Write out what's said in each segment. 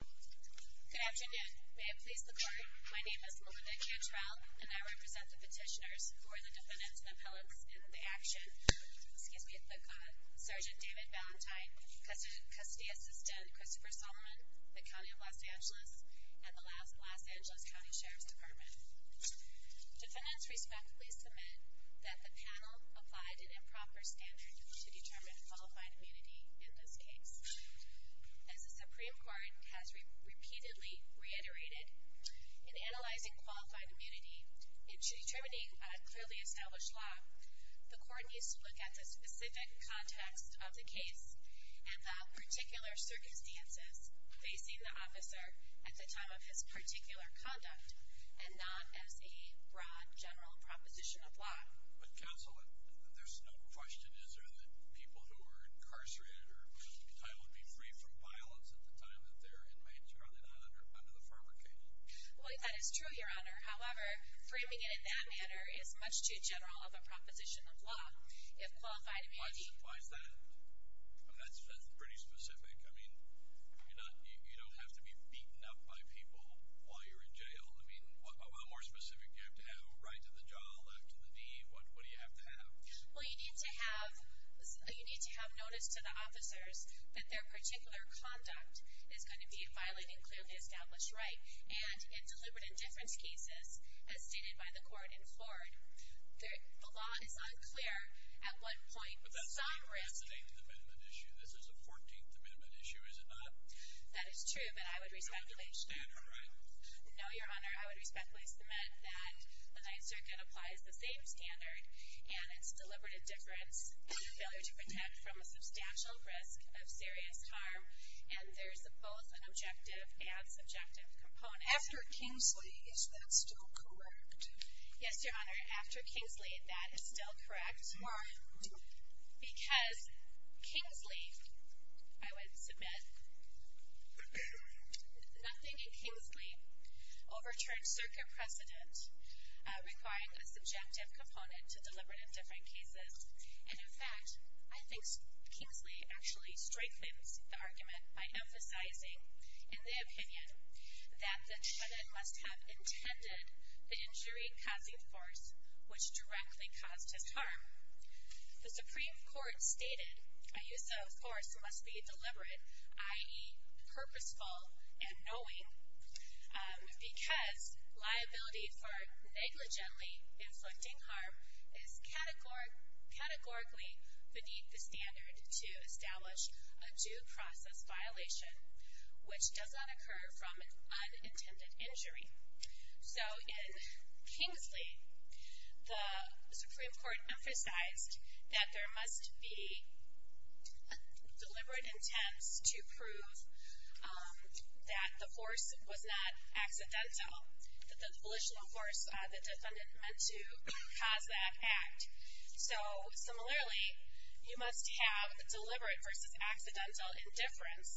Good afternoon. May it please the court, my name is Melinda Cantrell, and I represent the petitioners who are the defendants and appellants in the action. Excuse me a quick comment. Sgt. David Valentine, Custody Assistant Christopher Solomon, the County of Los Angeles, and the Los Angeles County Sheriff's Department. Defendants respectfully submit that the panel applied an improper standard to determine qualified immunity in this case. As the Supreme Court has repeatedly reiterated, in analyzing qualified immunity and determining a clearly established law, the court needs to look at the specific context of the case and the particular circumstances facing the officer at the time of his particular conduct, and not as a broad general proposition of law. But counsel, there's no question, is there, that people who are incarcerated or entitled to be free from violence at the time that they're inmates, are they not under the former case? Well, that is true, your honor. However, framing it in that manner is much too general of a proposition of law. If qualified immunity... Why is that? I mean, that's pretty specific. I mean, you don't have to be beaten up by people while you're in jail. I mean, how more specific do you have to have? Right to the jaw, left to the knee? What do you have to have? Well, you need to have notice to the officers that their particular conduct is going to be violating clearly established right. And in deliberate indifference cases, as stated by the court in Florida, the law is unclear at what point some risk... But that's the 8th Amendment issue. This is the 14th Amendment issue, is it not? That is true, but I would re-speculate. It's the same standard, right? No, your honor. I would respectfully submit that the Ninth Circuit applies the same standard, and it's deliberate indifference and failure to protect from a substantial risk of serious harm. And there's both an objective and subjective component. After Kingsley, is that still correct? Yes, your honor. After Kingsley, that is still correct. Why? Because Kingsley, I would submit, nothing in Kingsley overturned circuit precedent, requiring a subjective component to deliberate indifference cases. And in fact, I think Kingsley actually strengthens the argument by emphasizing in the opinion that the defendant must have intended the injury-causing force, which directly caused his harm. The Supreme Court stated a use of force must be deliberate, i.e. purposeful and knowing, because liability for negligently inflicting harm is categorically beneath the standard to establish a due process violation, which does not occur from an unintended injury. So in Kingsley, the Supreme Court emphasized that there must be deliberate intents to prove that the force was not accidental, that the delusional force the defendant meant to cause that act. So similarly, you must have deliberate versus accidental indifference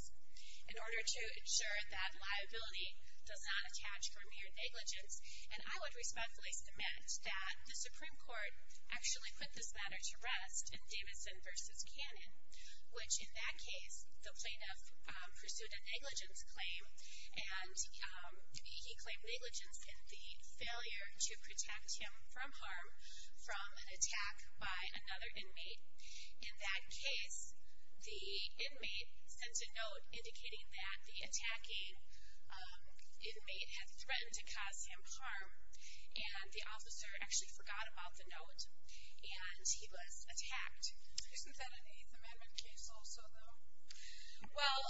in order to ensure that liability does not attach for mere negligence. And I would respectfully submit that the Supreme Court actually put this matter to rest in Davidson v. Cannon, which in that case, the plaintiff pursued a negligence claim, and he claimed negligence in the failure to protect him from harm from an attack by another inmate. In that case, the inmate sent a note indicating that the attacking inmate had threatened to cause him harm, and the officer actually forgot about the note, and he was attacked. Isn't that an Eighth Amendment case also, though? Well,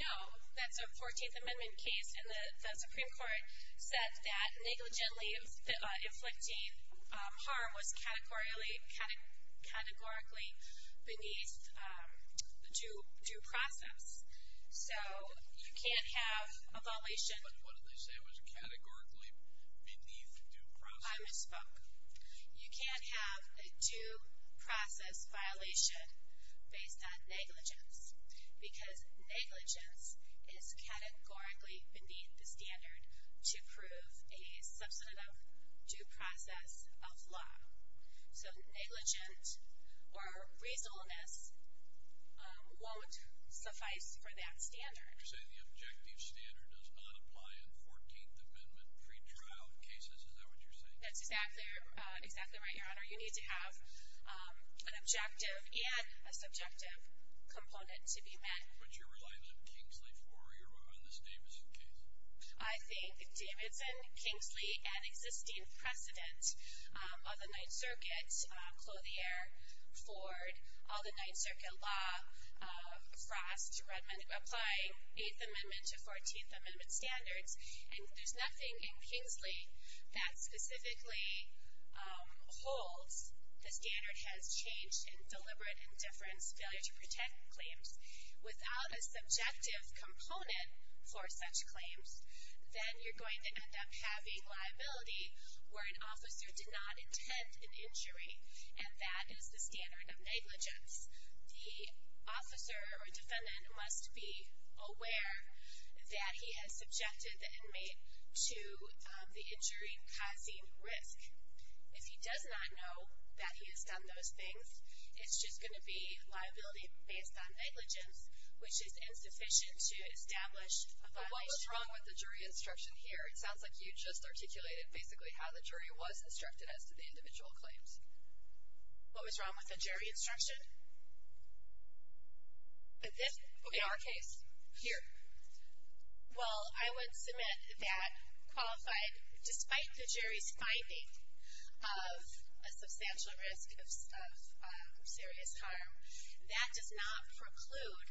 no. That's a Fourteenth Amendment case, and the Supreme Court said that negligently inflicting harm was categorically beneath due process. So you can't have a violation. But what did they say was categorically beneath due process? I misspoke. You can't have a due process violation based on negligence because negligence is categorically beneath the standard to prove a substantive due process of law. So negligence or reasonableness won't suffice for that standard. You're saying the objective standard does not apply in Fourteenth Amendment pretrial cases. Is that what you're saying? That's exactly right, Your Honor. You need to have an objective and a subjective component to be met. But you're relying on Kingsley for this Davidson case? I think Davidson, Kingsley, and existing precedents of the Ninth Circuit, Clothier, Ford, all the Ninth Circuit law, Frost, Redmond, apply Eighth Amendment to Fourteenth Amendment standards, and there's nothing in Kingsley that specifically holds the standard has changed in deliberate indifference failure to protect claims without a subjective component for such claims. Then you're going to end up having liability where an officer did not intend an injury, and that is the standard of negligence. The officer or defendant must be aware that he has subjected the inmate to the injury causing risk. If he does not know that he has done those things, it's just going to be liability based on negligence, which is insufficient to establish a violation. But what was wrong with the jury instruction here? It sounds like you just articulated basically how the jury was instructed as to the individual claims. What was wrong with the jury instruction in our case here? Well, I would submit that qualified, despite the jury's finding of a substantial risk of serious harm, that does not preclude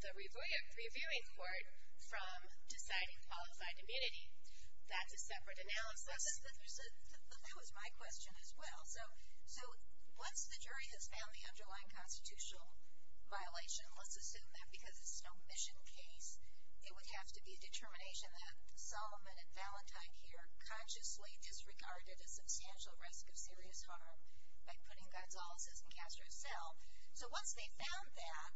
the reviewing court from deciding qualified immunity. That's a separate analysis. That was my question as well. So once the jury has found the underlying constitutional violation, let's assume that because this is no mission case, it would have to be a determination that Solomon and Valentine here consciously disregarded a substantial risk of serious harm by putting Gonzalez's in Castro's cell. So once they found that,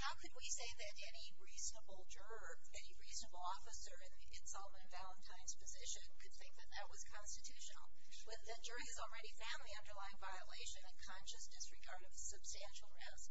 how could we say that any reasonable juror, any reasonable officer in Solomon and Valentine's position could think that that was constitutional, when the jury has already found the underlying violation and consciously disregarded a substantial risk?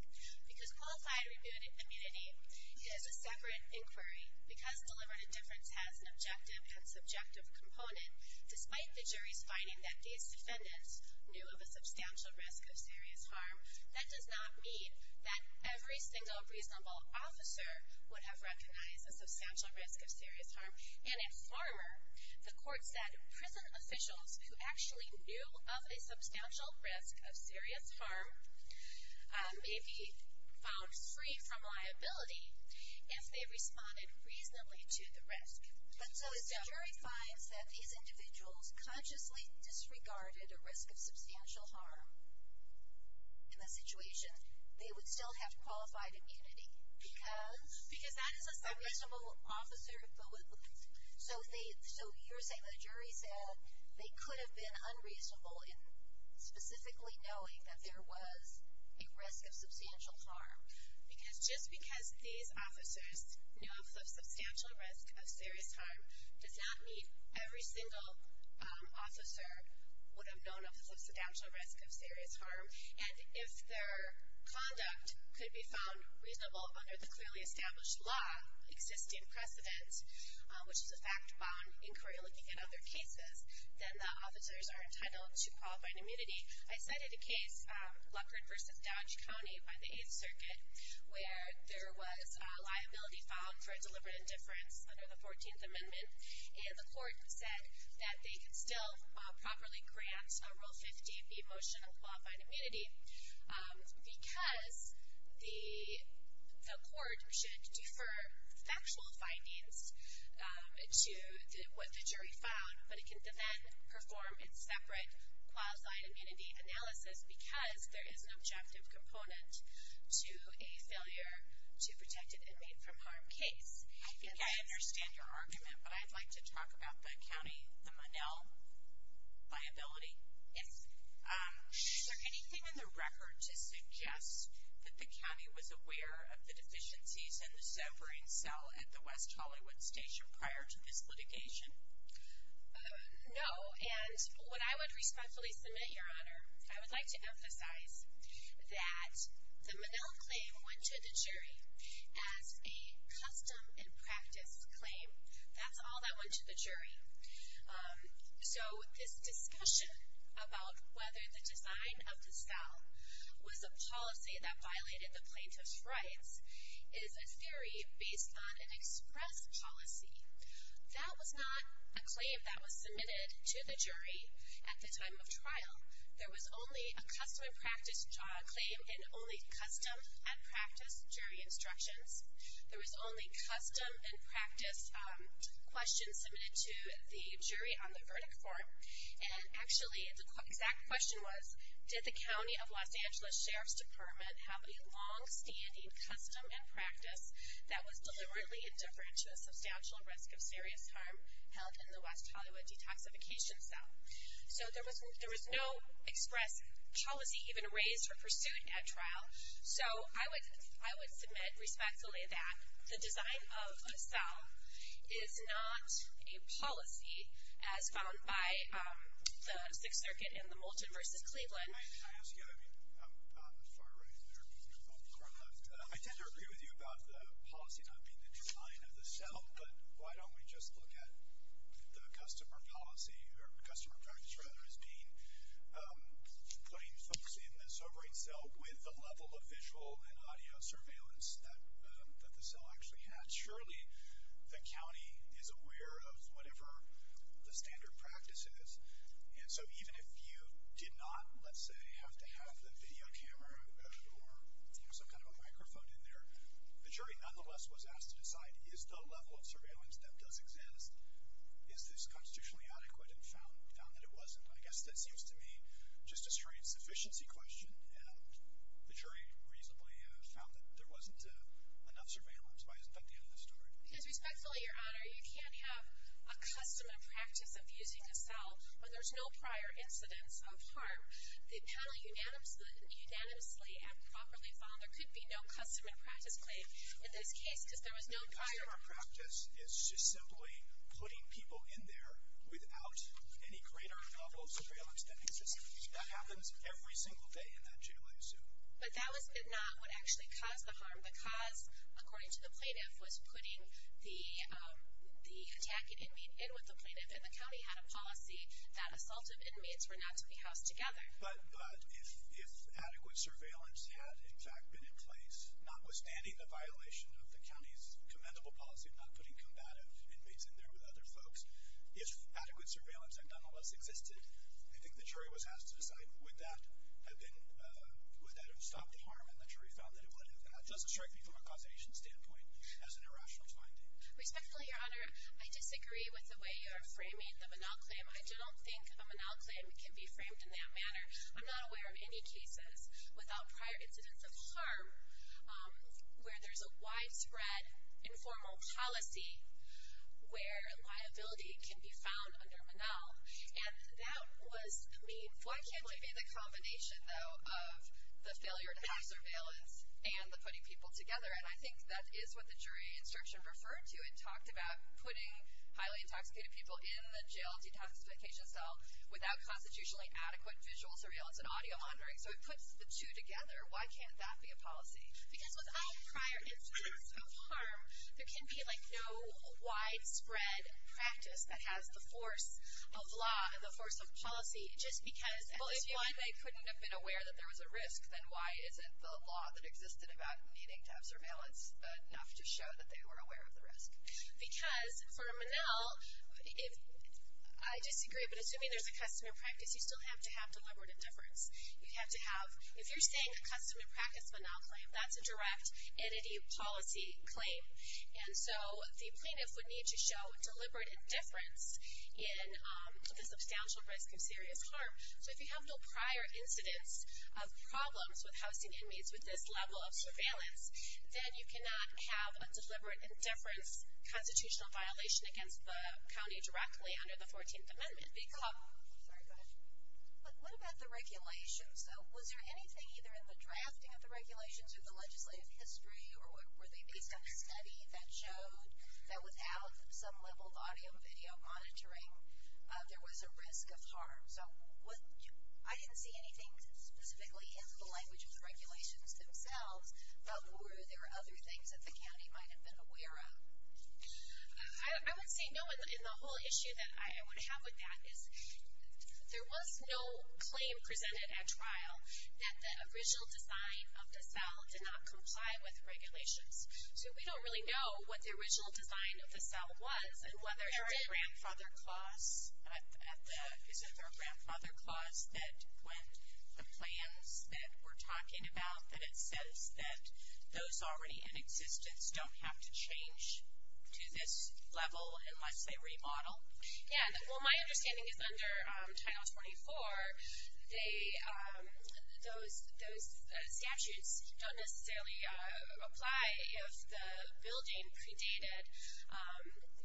Because qualified immunity is a separate inquiry, because deliberate indifference has an objective and subjective component, despite the jury's finding that these defendants knew of a substantial risk of serious harm, that does not mean that every single reasonable officer would have recognized a substantial risk of serious harm. And in Farmer, the court said prison officials who actually knew of a substantial risk of serious harm may be found free from liability if they responded reasonably to the risk. But so if the jury finds that these individuals consciously disregarded a risk of substantial harm in the situation, they would still have qualified immunity, because that is a reasonable officer. So you're saying the jury said they could have been unreasonable in specifically knowing that there was a risk of substantial harm. Because just because these officers knew of a substantial risk of serious harm, does not mean every single officer would have known of a substantial risk of serious harm. And if their conduct could be found reasonable under the clearly established law, existing precedence, which is a fact-bound inquiry looking at other cases, then the officers are entitled to qualified immunity. I cited a case, Luckard v. Dodge County, by the Eighth Circuit, where there was liability found for deliberate indifference under the 14th Amendment. And the court said that they could still properly grant Rule 50B, Motion of Qualified Immunity, because the court should defer factual findings to what the jury found, but it can then perform its separate qualified immunity analysis, because there is an objective component to a failure to protect an inmate from harm case. I think I understand your argument, but I'd like to talk about the county, the Monell liability. Yes. Is there anything in the record to suggest that the county was aware of the deficiencies in the severing cell at the West Hollywood Station prior to this litigation? No, and what I would respectfully submit, Your Honor, I would like to emphasize that the Monell claim went to the jury as a custom and practice claim. That's all that went to the jury. So this discussion about whether the design of the cell was a policy that violated the plaintiff's rights is a theory based on an express policy. That was not a claim that was submitted to the jury at the time of trial. There was only a custom and practice claim and only custom and practice jury instructions. There was only custom and practice questions submitted to the jury on the verdict form, and actually the exact question was, did the County of Los Angeles Sheriff's Department have a longstanding custom and practice that was deliberately indifferent to a substantial risk of serious harm held in the West Hollywood detoxification cell? So there was no express policy even raised or pursued at trial. So I would submit respectfully that the design of the cell is not a policy as found by the Sixth Circuit in the Moulton v. Cleveland. Can I ask you, I mean, I'm far right there. I'm far left. I tend to agree with you about the policy not being the design of the cell, but why don't we just look at the customer policy or customer practice, rather, as being putting folks in the sobering cell with the level of visual and audio surveillance that the cell actually had. Surely the county is aware of whatever the standard practice is, and so even if you did not, let's say, have to have the video camera or some kind of a microphone in there, the jury nonetheless was asked to decide, is the level of surveillance that does exist, is this constitutionally adequate, and found that it wasn't. I guess that seems to me just a straight sufficiency question, and the jury reasonably found that there wasn't enough surveillance by the end of the story. Because respectfully, Your Honor, you can't have a customer practice of using a cell when there's no prior incidence of harm. The panel unanimously and properly found there could be no customer practice claim in this case because there was no prior. Customer practice is just simply putting people in there without any greater level of surveillance that exists. That happens every single day in that jail, I assume. But that was not what actually caused the harm. The cause, according to the plaintiff, was putting the attacking inmate in with the plaintiff, and the county had a policy that assaultive inmates were not to be housed together. But if adequate surveillance had, in fact, been in place, notwithstanding the violation of the county's commendable policy of not putting combative inmates in there with other folks, if adequate surveillance had nonetheless existed, I think the jury was asked to decide would that have stopped the harm, and the jury found that it would have not. It doesn't strike me from a causation standpoint as an irrational finding. Respectfully, Your Honor, I disagree with the way you are framing the Manal claim. I don't think a Manal claim can be framed in that manner. I'm not aware of any cases without prior incidence of harm where there's a widespread informal policy where liability can be found under Manal. Why can't it be the combination, though, of the failure to have surveillance and the putting people together? And I think that is what the jury instruction referred to. It talked about putting highly intoxicated people in the jail detoxification cell without constitutionally adequate visual surveillance and audio monitoring. So it puts the two together. Why can't that be a policy? Because without prior incidence of harm, there can be, like, no widespread practice that has the force of law, the force of policy, just because at this point they couldn't have been aware that there was a risk, then why isn't the law that existed about needing to have surveillance enough to show that they were aware of the risk? Because for a Manal, I disagree, but assuming there's a customary practice, you still have to have deliberative difference. If you're saying a customary practice Manal claim, that's a direct entity policy claim. And so the plaintiff would need to show deliberate indifference in the substantial risk of serious harm. So if you have no prior incidence of problems with housing inmates with this level of surveillance, then you cannot have a deliberate indifference constitutional violation against the county directly under the 14th Amendment. Sorry, go ahead. But what about the regulations, though? Was there anything either in the drafting of the regulations or the legislative history, or were they based on a study that showed that without some level of audio and video monitoring, there was a risk of harm? So I didn't see anything specifically in the language of the regulations themselves, but were there other things that the county might have been aware of? I would say no, and the whole issue that I would have with that is there was no claim presented at trial that the original design of the cell did not comply with the regulations. So we don't really know what the original design of the cell was and whether it did. Was there a grandfather clause at the – is there a grandfather clause that when the plans that we're talking about, that it says that those already in existence don't have to change to this level unless they remodel? Yeah, well, my understanding is under Title 24, those statutes don't necessarily apply if the building predated,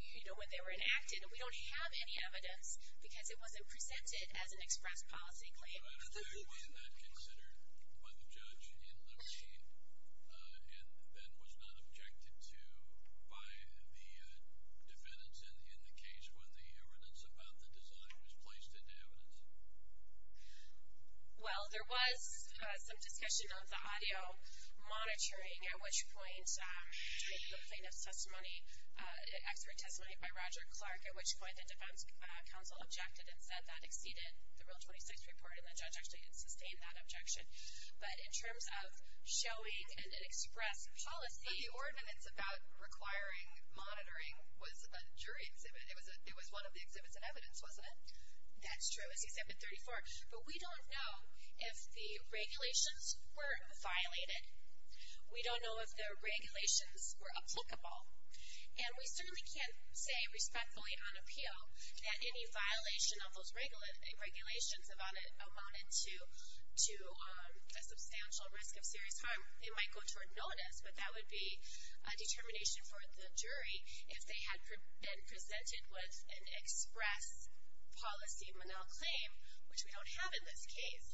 you know, when they were enacted. We don't have any evidence because it wasn't presented as an express policy claim. So I don't know if that was not considered by the judge in the meeting and then was not objected to by the defendants in the case when the evidence about the design was placed into evidence? Well, there was some discussion of the audio monitoring, at which point taking the plaintiff's testimony, expert testimony by Roger Clark, at which point the defense counsel objected and said that exceeded the Rule 26 report, and the judge actually had sustained that objection. But in terms of showing an express policy – But the ordinance about requiring monitoring was a jury exhibit. It was one of the exhibits in evidence, wasn't it? That's true. It was Exhibit 34. But we don't know if the regulations were violated. We don't know if the regulations were applicable. And we certainly can't say respectfully on appeal that any violation of those regulations amounted to a substantial risk of serious harm. It might go toward notice, but that would be a determination for the jury if they had been presented with an express policy manel claim, which we don't have in this case.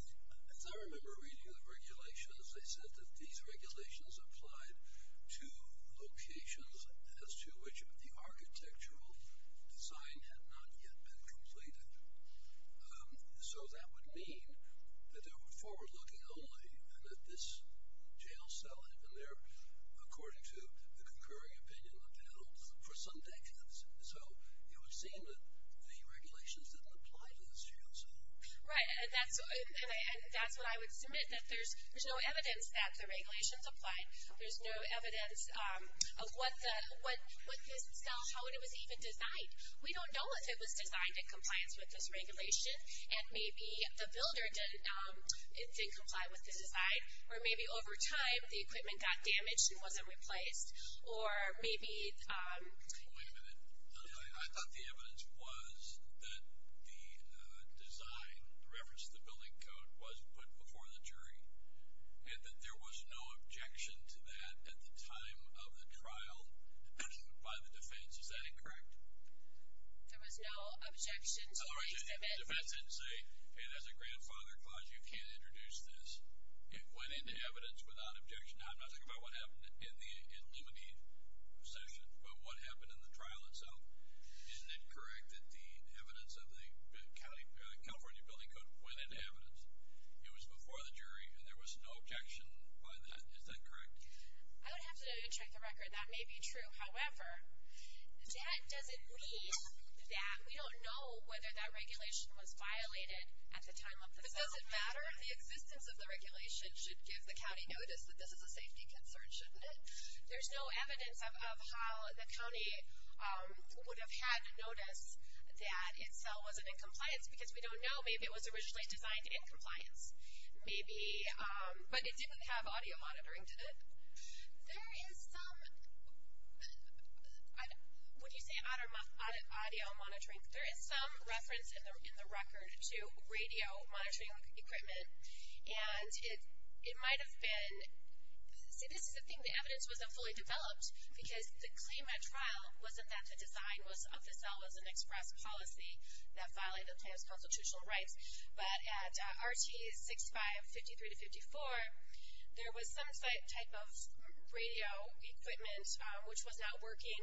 I remember reading the regulations. They said that these regulations applied to locations as to which the architectural design had not yet been completed. So that would mean that they were forward-looking only and that this jail cell had been there, according to the concurring opinion of the panel, for some decades. So it would seem that the regulations didn't apply to this jail cell. Right. That's what I would submit, that there's no evidence that the regulations applied. There's no evidence of what this cell, how it was even designed. We don't know if it was designed in compliance with this regulation and maybe the builder didn't comply with the design or maybe over time the equipment got damaged and wasn't replaced. Wait a minute. I thought the evidence was that the design, in reference to the building code, was put before the jury and that there was no objection to that at the time of the trial by the defense. Is that incorrect? There was no objection to the exhibit. The defense didn't say, hey, there's a grandfather clause. You can't introduce this. It went into evidence without objection. I'm not talking about what happened in the Illuminate session, but what happened in the trial itself. Isn't it correct that the evidence of the California building code went into evidence? It was before the jury and there was no objection by that. Is that correct? I would have to check the record. That may be true. However, that doesn't mean that we don't know whether that regulation was violated at the time of the cell. But does it matter? The existence of the regulation should give the county notice that this is a safety concern, shouldn't it? There's no evidence of how the county would have had to notice that its cell wasn't in compliance because we don't know. Maybe it was originally designed in compliance. Maybe, but it didn't have audio monitoring, did it? There is some, would you say audio monitoring? There is some reference in the record to radio monitoring equipment and it might have been, see this is the thing, the evidence wasn't fully developed because the claim at trial wasn't that the design of the cell was an express policy that violated the county's constitutional rights. But at RT 6553-54, there was some type of radio equipment which was not working.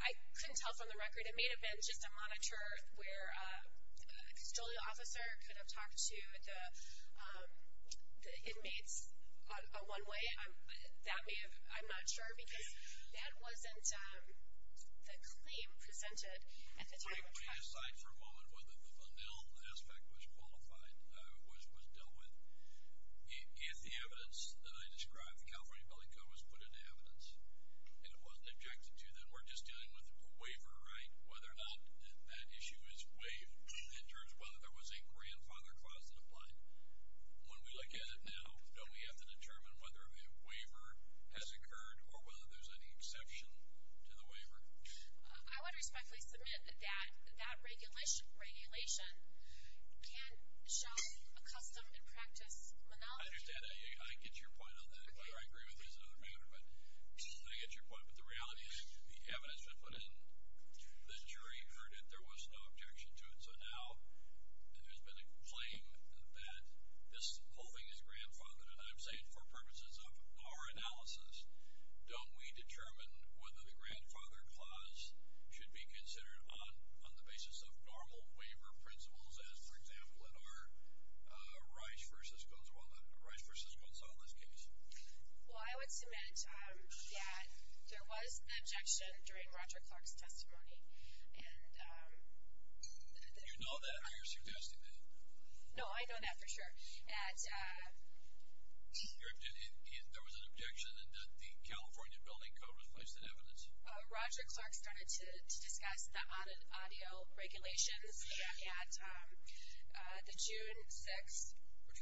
I couldn't tell from the record. It may have been just a monitor where a custodial officer could have talked to the inmates one way. That may have, I'm not sure because that wasn't the claim presented at the time of trial. Let me decide for a moment whether the funnel aspect was qualified, was dealt with. If the evidence that I described, the California Building Code was put into evidence and it wasn't objected to, then we're just dealing with a waiver, right? Whether or not that issue is waived in terms of whether there was a grandfather clause in the plan. When we look at it now, don't we have to determine whether a waiver has occurred or whether there's any exception to the waiver? I would respectfully submit that that regulation can show a custom and practice monology. I understand. I get your point on that. I agree with you as another matter, but I get your point. But the reality is the evidence that was put in, the jury heard it, there was no objection to it. So now there's been a claim that this clothing is grandfathered. And I'm saying for purposes of our analysis, don't we determine whether the grandfather clause should be considered on the basis of normal waiver principles as, for example, in our Rice v. Gonzalez case? Well, I would submit that there was an objection during Roger Clark's testimony. Do you know that or are you suggesting that? No, I know that for sure. There was an objection and that the California Building Code was placed in evidence? Roger Clark started to discuss the audio regulations at the June 6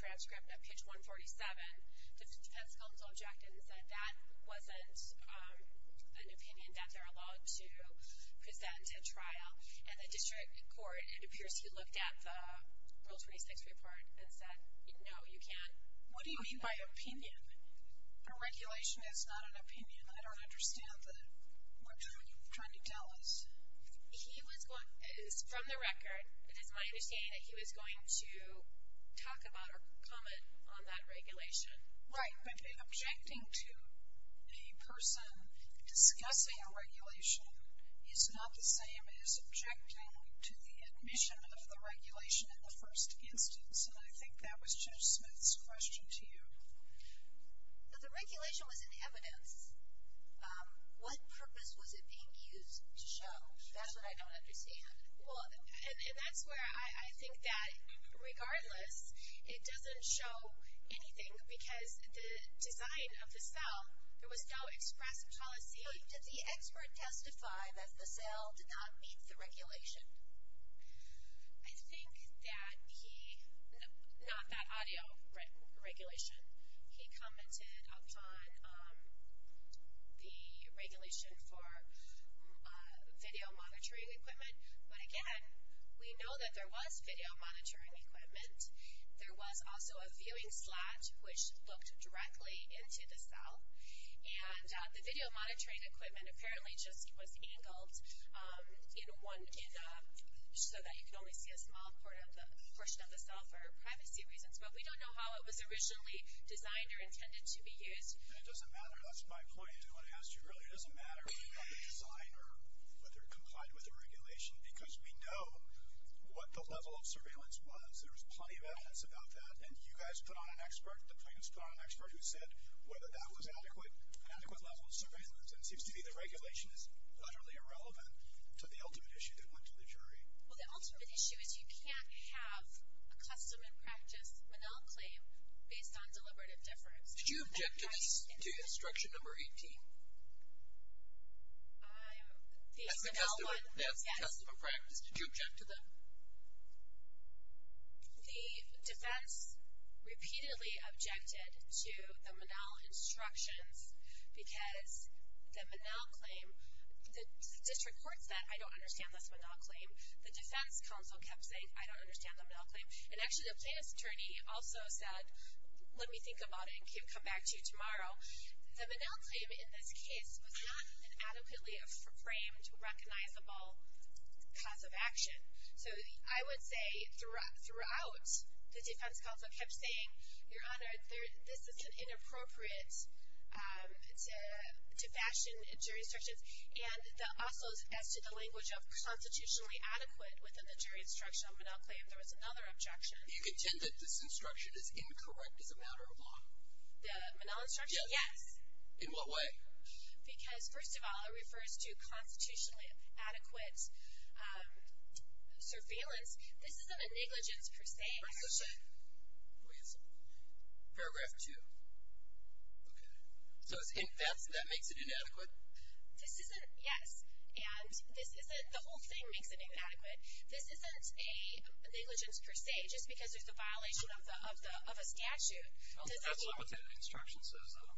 transcript of page 147. The defense counsel objected and said that wasn't an opinion that they're allowed to present at trial. And the district court, it appears he looked at the Rule 26 report and said, no, you can't. What do you mean by opinion? The regulation is not an opinion. I don't understand what you're trying to tell us. From the record, it is my understanding that he was going to talk about or comment on that regulation. Right, but objecting to a person discussing a regulation is not the same as objecting to the admission of the regulation in the first instance. And I think that was Judge Smith's question to you. The regulation was in evidence. What purpose was it being used to show? That's what I don't understand. And that's where I think that, regardless, it doesn't show anything because the design of the cell, there was no express policy. Did the expert testify that the cell did not meet the regulation? I think that he, not that audio regulation, he commented upon the regulation for video monitoring equipment. But again, we know that there was video monitoring equipment. There was also a viewing slot which looked directly into the cell. And the video monitoring equipment apparently just was angled so that you could only see a small portion of the cell for privacy reasons. But we don't know how it was originally designed or intended to be used. And it doesn't matter, that's my point to what I asked you earlier, it doesn't matter whether you have the design or whether it complied with the regulation because we know what the level of surveillance was. There was plenty of evidence about that. And you guys put on an expert, the plaintiffs put on an expert who said whether that was an adequate level of surveillance. And it seems to me the regulation is utterly irrelevant to the ultimate issue that went to the jury. Well, the ultimate issue is you can't have a custom and practice Manal claim based on deliberative difference. Did you object to this, to instruction number 18? That's the custom and practice, did you object to that? The defense repeatedly objected to the Manal instructions because the Manal claim, the district court said I don't understand this Manal claim. The defense counsel kept saying I don't understand the Manal claim. And actually the plaintiff's attorney also said let me think about it and come back to you tomorrow. The Manal claim in this case was not an adequately framed, recognizable cause of action. So I would say throughout the defense counsel kept saying, Your Honor, this is inappropriate to fashion jury instructions. And also as to the language of constitutionally adequate within the jury instruction on Manal claim, there was another objection. Do you contend that this instruction is incorrect as a matter of law? The Manal instruction? Yes. In what way? Because, first of all, it refers to constitutionally adequate surveillance. This isn't a negligence per se. Please. Paragraph 2. Okay. So that makes it inadequate? This isn't, yes. And this isn't, the whole thing makes it inadequate. This isn't a negligence per se just because there's a violation of a statute. That's not what that instruction says, though.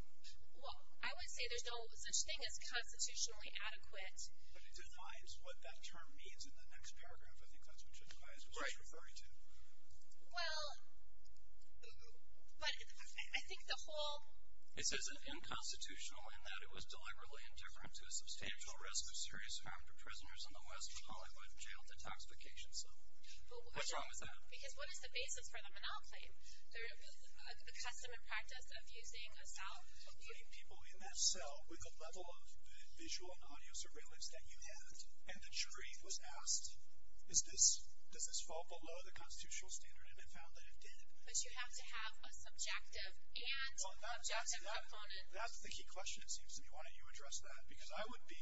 Well, I would say there's no such thing as constitutionally adequate. But it defines what that term means in the next paragraph. I think that's what you're referring to. Well, but I think the whole... It says it's unconstitutional in that it was deliberately indifferent to a substantial risk of serious harm to prisoners in the West when Hollywood jailed a tax vacation cell. What's wrong with that? Because what is the basis for the Manal claim? The custom and practice of using a cell? Putting people in that cell with the level of visual and audio surveillance that you had And the jury was asked, does this fall below the constitutional standard? And it found that it did. But you have to have a subjective and objective component. That's the key question, it seems to me. Why don't you address that? Because I would be,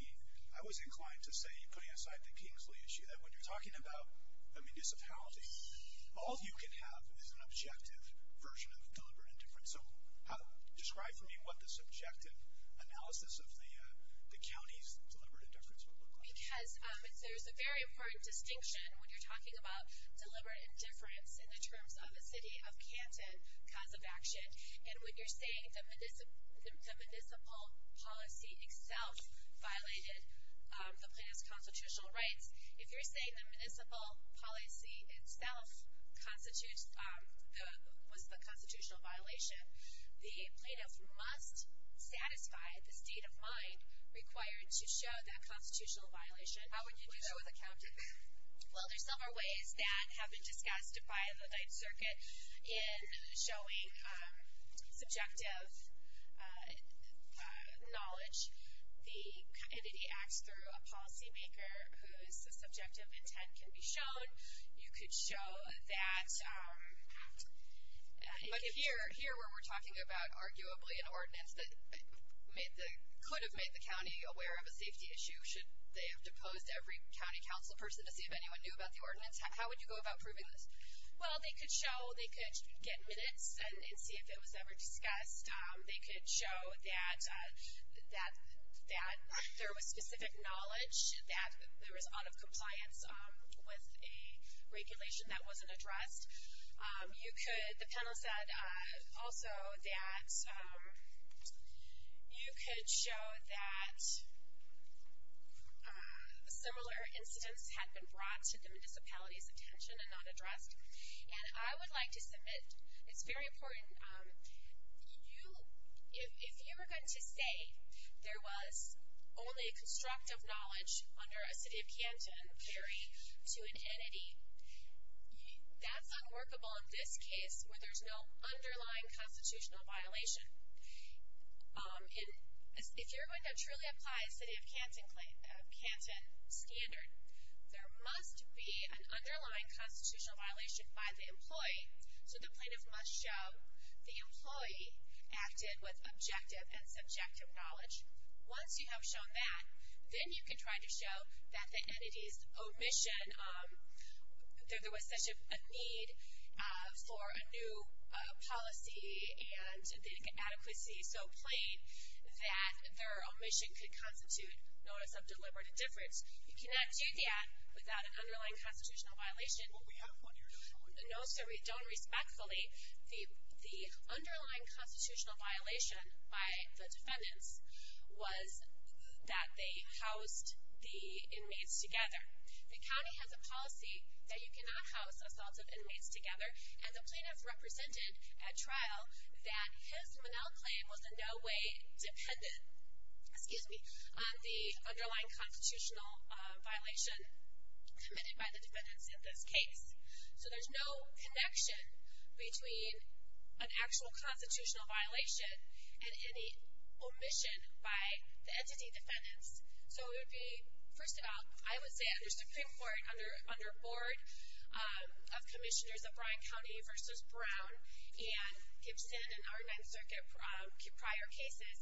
I was inclined to say, putting aside the Kingsley issue, that when you're talking about a municipality, all you can have is an objective version of deliberate indifference. So describe for me what the subjective analysis of the county's deliberate indifference would look like. Because there's a very important distinction when you're talking about deliberate indifference in the terms of a city of Canton cause of action. And when you're saying the municipal policy itself violated the plaintiff's constitutional rights, if you're saying the municipal policy itself was the constitutional violation, the plaintiff must satisfy the state of mind required to show that constitutional violation. How would you do that with a county? Well, there's several ways that have been discussed by the Ninth Circuit in showing subjective knowledge. The entity acts through a policymaker whose subjective intent can be shown. You could show that. But here, where we're talking about arguably an ordinance that could have made the county aware of a safety issue, should they have deposed every county council person to see if anyone knew about the ordinance, how would you go about proving this? Well, they could show, they could get minutes and see if it was ever discussed. They could show that there was specific knowledge, that there was out of compliance with a regulation that wasn't addressed. You could, the panel said also that you could show that similar incidents had been brought to the municipality's attention and not addressed. And I would like to submit, it's very important, if you were going to say there was only constructive knowledge under a city of Canton theory to an entity, that's unworkable in this case where there's no underlying constitutional violation. If you're going to truly apply a city of Canton standard, there must be an underlying constitutional violation by the employee. So the plaintiff must show the employee acted with objective and subjective knowledge. Once you have shown that, then you can try to show that the entity's omission, that there was such a need for a new policy and the adequacy so plain that their omission could constitute notice of deliberate indifference. You cannot do that without an underlying constitutional violation. Well, we have one here, don't we? No, sir, we don't, respectfully. The underlying constitutional violation by the defendants was that they housed the inmates together. The county has a policy that you cannot house assaultive inmates together, and the plaintiff represented at trial that his Monell claim was in no way dependent, excuse me, on the underlying constitutional violation committed by the defendants in this case. So there's no connection between an actual constitutional violation and any omission by the entity defendants. So it would be, first of all, I would say under Supreme Court, under board of commissioners of Bryan County versus Brown and Gibson and our Ninth Circuit prior cases,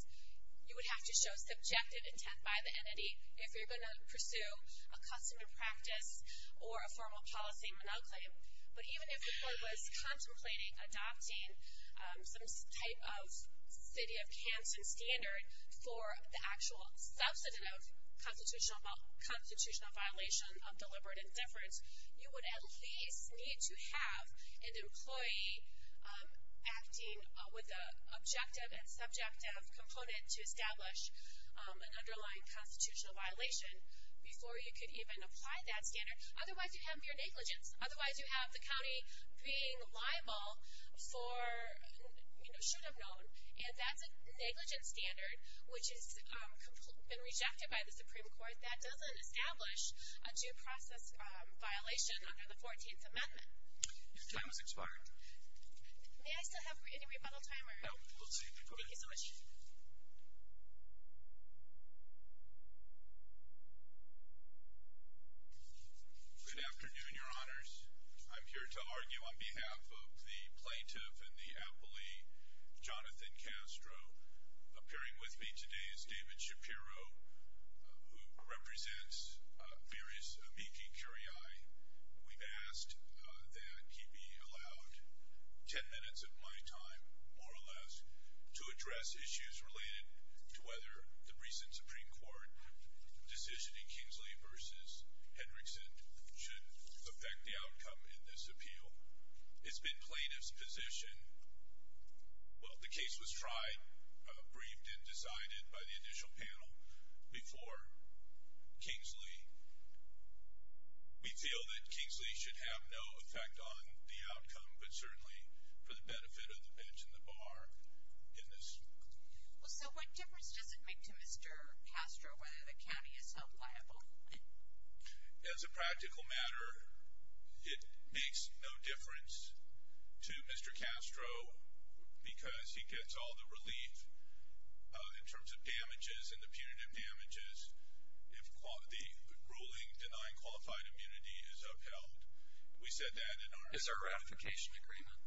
you would have to show subjective intent by the entity if you're going to pursue a customary practice or a formal policy Monell claim. But even if the court was contemplating adopting some type of city of Kansan standard for the actual substantive constitutional violation of deliberate indifference, you would at least need to have an employee acting with an objective and subjective component to establish an underlying constitutional violation before you could even apply that standard. Otherwise, you have mere negligence. Otherwise, you have the county being liable for, you know, should have known. And that's a negligence standard which has been rejected by the Supreme Court that doesn't establish a due process violation under the 14th Amendment. Your time has expired. May I still have any rebuttal time? No, we'll see. Thank you so much. Good afternoon, Your Honors. I'm here to argue on behalf of the plaintiff and the appellee, Jonathan Castro. Appearing with me today is David Shapiro, who represents various amici curiae. We've asked that he be allowed 10 minutes of my time, more or less, to address issues related to whether the recent Supreme Court decision in Kingsley versus Hendrickson should affect the outcome in this appeal. It's been plaintiff's position. Well, the case was tried, briefed, and decided by the initial panel before Kingsley. We feel that Kingsley should have no effect on the outcome, but certainly for the benefit of the bench and the bar in this. Well, so what difference does it make to Mr. Castro whether the county is held liable? As a practical matter, it makes no difference to Mr. Castro because he gets all the relief in terms of damages and the punitive damages if the ruling denying qualified immunity is upheld. We said that in our identification agreement. Is there a ratification agreement,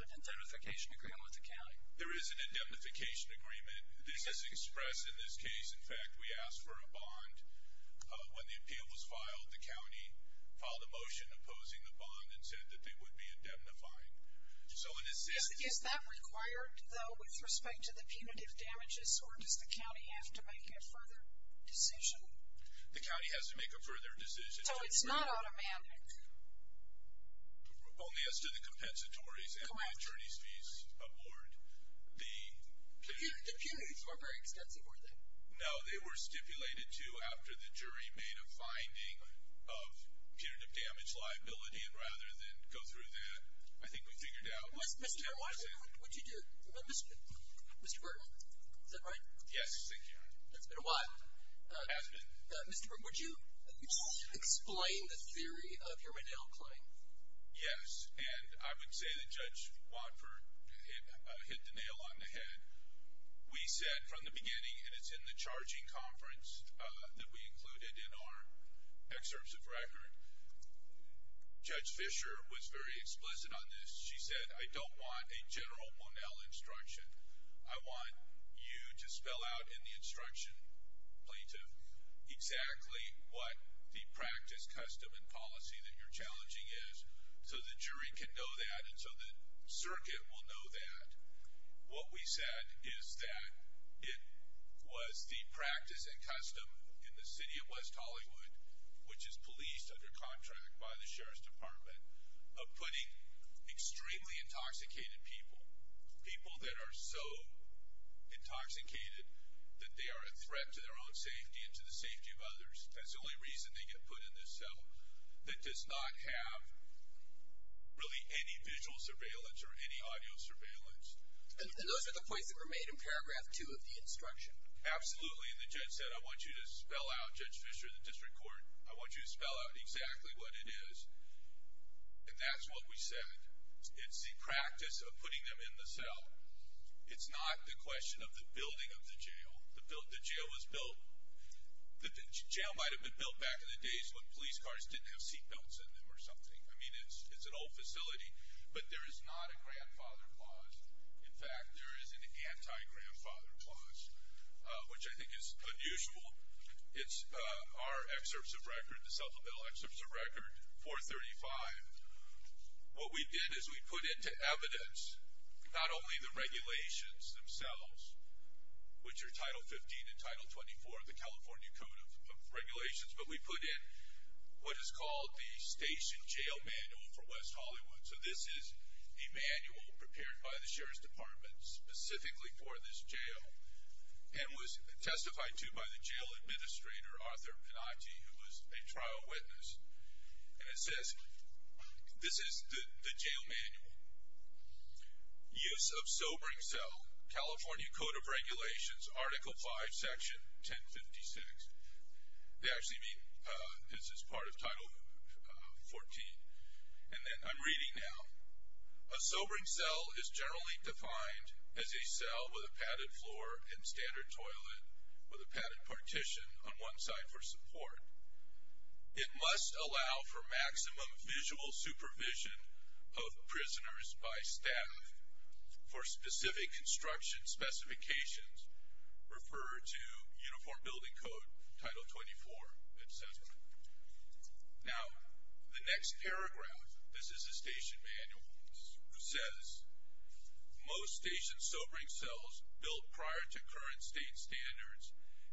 identification agreement with the county? There is an indemnification agreement. This is expressed in this case. In fact, we asked for a bond. When the appeal was filed, the county filed a motion opposing the bond and said that they would be indemnifying. Is that required, though, with respect to the punitive damages, or does the county have to make a further decision? The county has to make a further decision. So it's not automatic? Only as to the compensatories and the attorney's fees aboard. The punitives were very extensive, weren't they? No, they were stipulated to after the jury made a finding of punitive damage liability, and rather than go through that, I think we figured out what was it. Mr. Martin, what did you do? Mr. Burton, is that right? Yes, thank you. That's been a while. It has been. Mr. Burton, would you explain the theory of your Monell claim? Yes, and I would say that Judge Watford hit the nail on the head. We said from the beginning, and it's in the charging conference that we included in our excerpts of record, Judge Fisher was very explicit on this. She said, I don't want a general Monell instruction. I want you to spell out in the instruction, plaintiff, exactly what the practice, custom, and policy that you're challenging is so the jury can know that and so the circuit will know that. What we said is that it was the practice and custom in the city of West Hollywood, which is policed under contract by the Sheriff's Department, of putting extremely intoxicated people, people that are so intoxicated that they are a threat to their own safety and to the safety of others. That's the only reason they get put in this cell that does not have really any visual surveillance or any audio surveillance. And those are the points that were made in paragraph two of the instruction. Absolutely, and the judge said, I want you to spell out, Judge Fisher, the district court, I want you to spell out exactly what it is, and that's what we said. It's the practice of putting them in the cell. It's not the question of the building of the jail. The jail was built, the jail might have been built back in the days when police cars didn't have seat belts in them or something. I mean, it's an old facility, but there is not a grandfather clause. In fact, there is an anti-grandfather clause, which I think is unusual. It's our excerpts of record, the supplemental excerpts of record, 435. What we did is we put into evidence not only the regulations themselves, which are Title 15 and Title 24 of the California Code of Regulations, but we put in what is called the Station Jail Manual for West Hollywood. So this is a manual prepared by the Sheriff's Department specifically for this jail and was testified to by the jail administrator, Arthur Pinacci, who was a trial witness. And it says, this is the jail manual. Use of sobering cell, California Code of Regulations, Article 5, Section 1056. They actually mean this is part of Title 14. And then I'm reading now. A sobering cell is generally defined as a cell with a padded floor and standard toilet with a padded partition on one side for support. It must allow for maximum visual supervision of prisoners by staff for specific construction specifications referred to Uniform Building Code, Title 24, etc. Now, the next paragraph, this is the station manual, says, most station sobering cells built prior to current state standards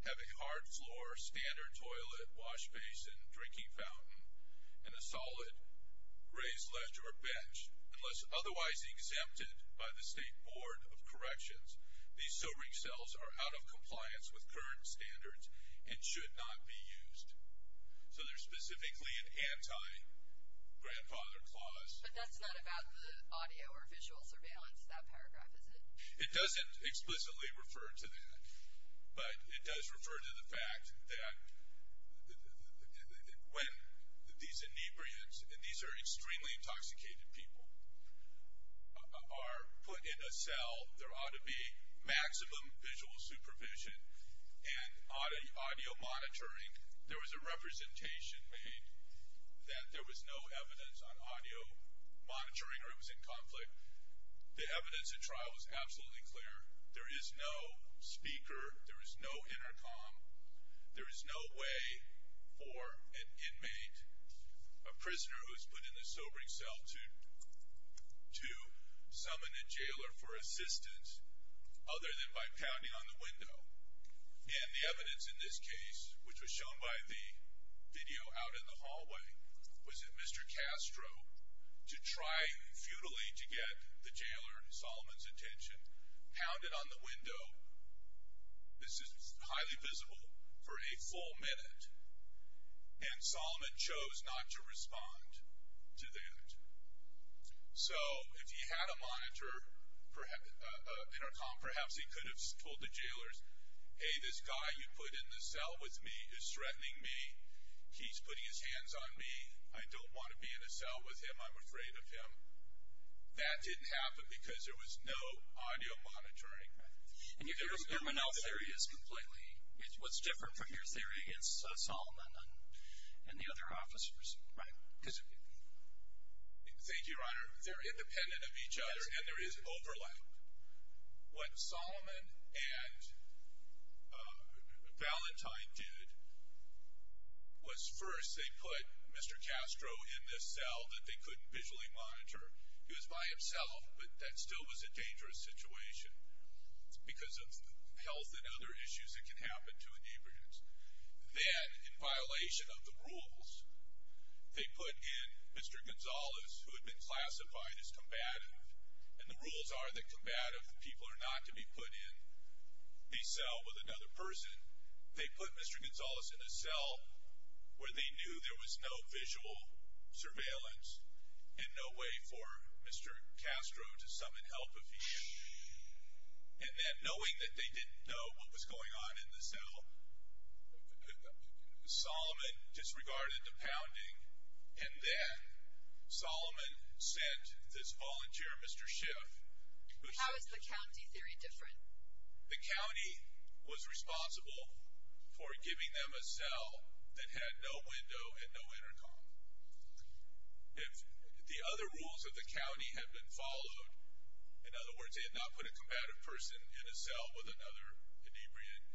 have a hard floor, standard toilet, wash basin, drinking fountain, and a solid raised ledge or bench unless otherwise exempted by the State Board of Corrections. These sobering cells are out of compliance with current standards and should not be used. So they're specifically an anti-grandfather clause. But that's not about the audio or visual surveillance, that paragraph, is it? It doesn't explicitly refer to that. But it does refer to the fact that when these inebriants, and these are extremely intoxicated people, are put in a cell, there ought to be maximum visual supervision and audio monitoring. There was a representation made that there was no evidence on audio monitoring or it was in conflict. But the evidence at trial was absolutely clear. There is no speaker. There is no intercom. There is no way for an inmate, a prisoner who is put in a sobering cell, to summon a jailer for assistance other than by pounding on the window. And the evidence in this case, which was shown by the video out in the hallway, was that Mr. Castro, to try futilely to get the jailer, Solomon's attention, pounded on the window, this is highly visible, for a full minute. And Solomon chose not to respond to that. So if he had a monitor, an intercom, perhaps he could have told the jailers, hey, this guy you put in the cell with me is threatening me. He's putting his hands on me. I don't want to be in a cell with him. I'm afraid of him. That didn't happen because there was no audio monitoring. And your Monell theory is completely, what's different from your theory against Solomon and the other officers, right? Thank you, Your Honor. They're independent of each other and there is overlap. What Solomon and Valentine did was first they put Mr. Castro in this cell that they couldn't visually monitor. He was by himself, but that still was a dangerous situation because of health and other issues that can happen to an immigrant. Then, in violation of the rules, they put in Mr. Gonzalez, who had been classified as combative. And the rules are that combative people are not to be put in the cell with another person. They put Mr. Gonzalez in a cell where they knew there was no visual surveillance and no way for Mr. Castro to summon help if he did. And then, knowing that they didn't know what was going on in the cell, Solomon disregarded the pounding. And then Solomon sent this volunteer, Mr. Schiff. How is the county theory different? The county was responsible for giving them a cell that had no window and no intercom. If the other rules of the county had been followed, in other words, they had not put a combative person in a cell with another inebriated,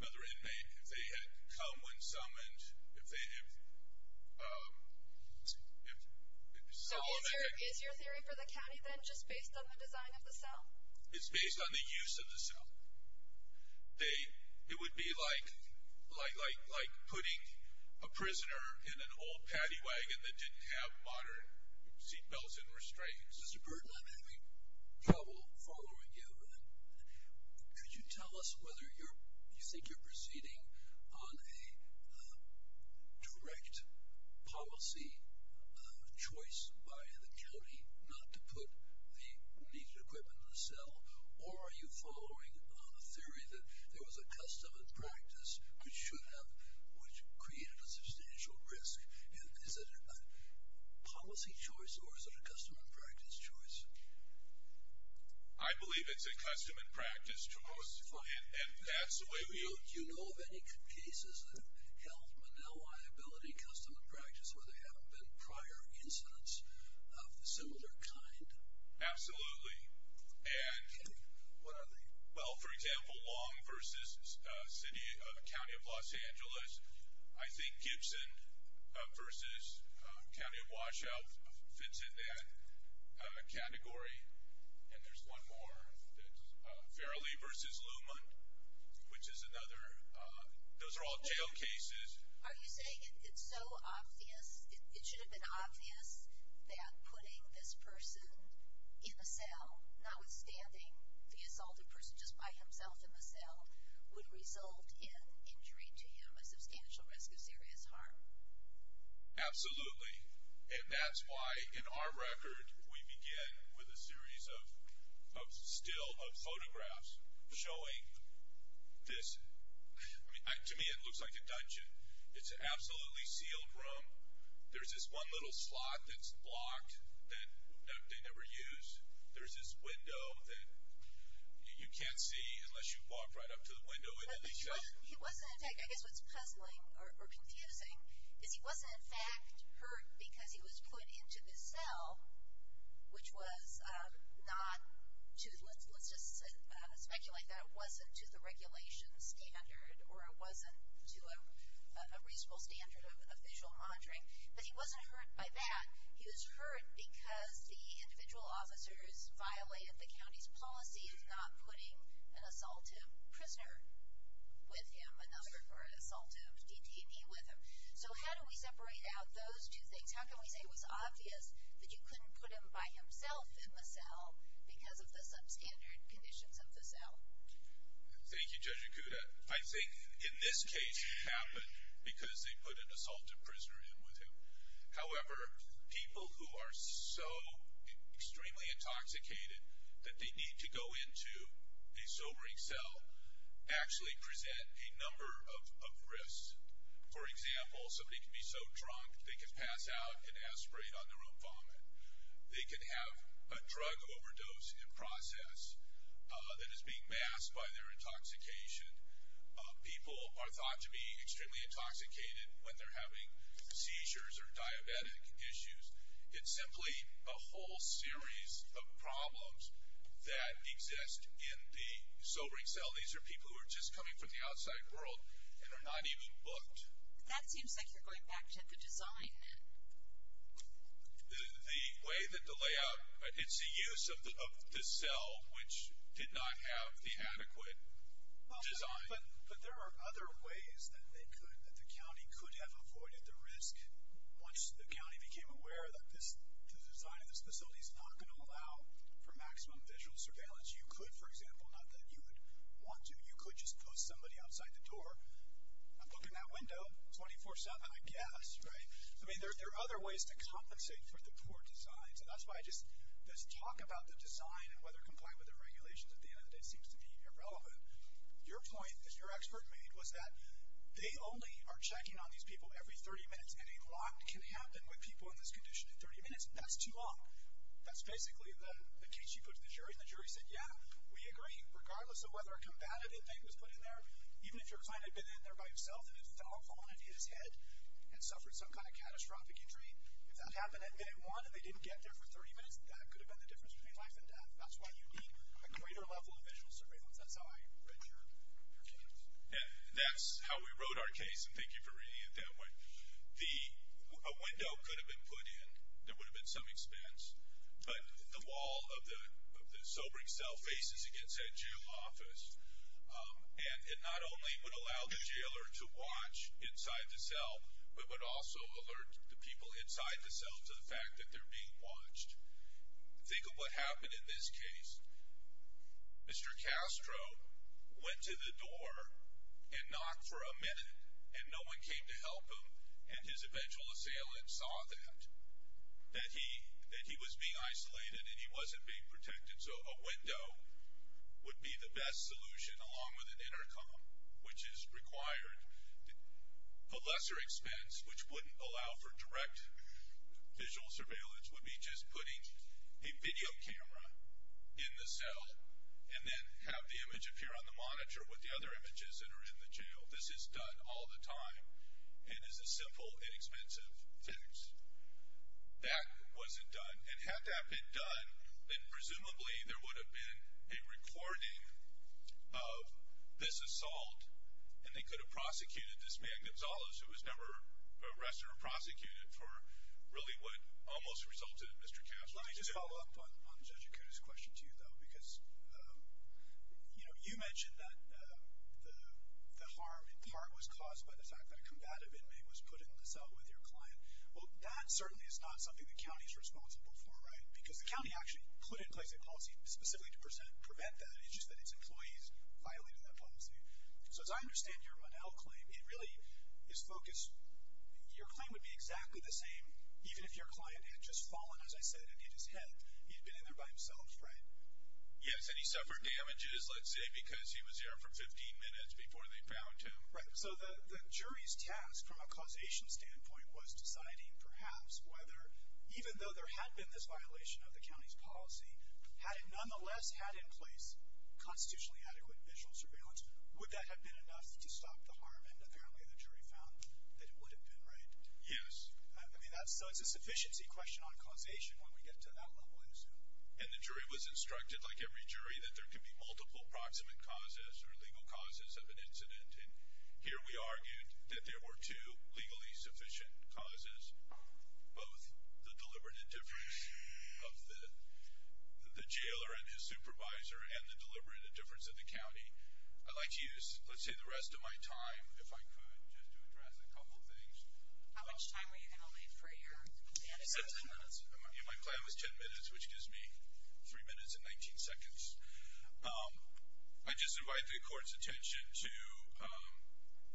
another inmate. If they had come when summoned, if they had— So is your theory for the county then just based on the design of the cell? It's based on the use of the cell. It would be like putting a prisoner in an old paddy wagon that didn't have modern seatbelts and restraints. Mr. Burton, I'm having trouble following you. Could you tell us whether you think you're proceeding on a direct policy choice by the county not to put the needed equipment in the cell, or are you following a theory that there was a custom and practice which created a substantial risk? Is it a policy choice, or is it a custom and practice choice? I believe it's a custom and practice choice, and that's the way we— Do you know of any cases that have held with no liability custom and practice where there haven't been prior incidents of a similar kind? Absolutely. And what are they? Well, for example, Long v. City—County of Los Angeles. I think Gibson v. County of Washout fits in that category. And there's one more that's Farrelly v. Luman, which is another. Those are all jail cases. Are you saying it's so obvious—it should have been obvious that putting this person in the cell, notwithstanding the assault, a person just by himself in the cell would result in injury to him, a substantial risk of serious harm? Absolutely. And that's why in our record we begin with a series of still of photographs showing this—to me it looks like a dungeon. It's an absolutely sealed room. There's this one little slot that's blocked that they never used. There's this window that you can't see unless you walk right up to the window. I guess what's puzzling or confusing is he wasn't, in fact, hurt because he was put into this cell, which was not—let's just speculate that it wasn't to the regulation standard or it wasn't to a reasonable standard of visual monitoring. But he wasn't hurt by that. He was hurt because the individual officers violated the county's policy of not putting an assaultive prisoner with him or an assaultive detainee with him. So how do we separate out those two things? How can we say it was obvious that you couldn't put him by himself in the cell because of the substandard conditions of the cell? Thank you, Judge Ikuda. I think in this case it happened because they put an assaultive prisoner in with him. However, people who are so extremely intoxicated that they need to go into a sobering cell actually present a number of risks. For example, somebody can be so drunk they can pass out and aspirate on their own vomit. They can have a drug overdose in process that is being masked by their intoxication. People are thought to be extremely intoxicated when they're having seizures or diabetic issues. It's simply a whole series of problems that exist in the sobering cell. These are people who are just coming from the outside world and are not even booked. That seems like you're going back to the design, then. The way that the layout, it's the use of the cell, which did not have the adequate design. But there are other ways that the county could have avoided the risk once the county became aware that the design of this facility is not going to allow for maximum visual surveillance. You could, for example, not that you would want to, you could just post somebody outside the door, I'm booking that window 24-7, I guess, right? There are other ways to compensate for the poor design. That's why I just, this talk about the design and whether compliant with the regulations at the end of the day seems to be irrelevant. Your point that your expert made was that they only are checking on these people every 30 minutes and a lot can happen with people in this condition in 30 minutes. That's too long. That's basically the case you put to the jury, and the jury said, yeah, we agree, regardless of whether a combative indictment was put in there, even if your client had been in there by himself and then fell upon his head and suffered some kind of catastrophic injury, if that happened at minute one and they didn't get there for 30 minutes, that could have been the difference between life and death. That's why you need a greater level of visual surveillance. That's how I read your case. That's how we wrote our case, and thank you for reading it that way. A window could have been put in, there would have been some expense, but the wall of the sobering cell faces against that jail office, and it not only would allow the jailer to watch inside the cell, but would also alert the people inside the cell to the fact that they're being watched. Think of what happened in this case. Mr. Castro went to the door and knocked for a minute, and no one came to help him, and his eventual assailant saw that, that he was being isolated and he wasn't being protected, so a window would be the best solution along with an intercom, which is required. A lesser expense, which wouldn't allow for direct visual surveillance, would be just putting a video camera in the cell and then have the image appear on the monitor with the other images that are in the jail. This is done all the time and is a simple, inexpensive fix. That wasn't done, and had that been done, then presumably there would have been a recording of this assault, and they could have prosecuted this man, Gonzales, who was never arrested or prosecuted for really what almost resulted in Mr. Castro's death. Let me just follow up on Judge Acuda's question to you, though, because you mentioned that the harm in part was caused by the fact that a combative inmate was put in the cell with your client. Well, that certainly is not something the county is responsible for, right, because the county actually put in place a policy specifically to prevent that. It's just that its employees violated that policy. So as I understand your Monell claim, it really is focused— your claim would be exactly the same even if your client had just fallen, as I said, and hit his head. He'd been in there by himself, right? Yes, and he suffered damages, let's say, because he was there for 15 minutes before they found him. Right, so the jury's task from a causation standpoint was deciding, perhaps, whether even though there had been this violation of the county's policy, had it nonetheless had in place constitutionally adequate visual surveillance, would that have been enough to stop the harm? And apparently the jury found that it would have been, right? Yes. I mean, so it's a sufficiency question on causation when we get to that level, I assume. And the jury was instructed, like every jury, that there could be multiple proximate causes or legal causes of an incident. And here we argued that there were two legally sufficient causes, both the deliberate indifference of the jailer and his supervisor and the deliberate indifference of the county. I'd like to use, let's say, the rest of my time, if I could, just to address a couple things. How much time were you going to leave for your plan? I said 10 minutes. My plan was 10 minutes, which gives me 3 minutes and 19 seconds. I'd just invite the court's attention to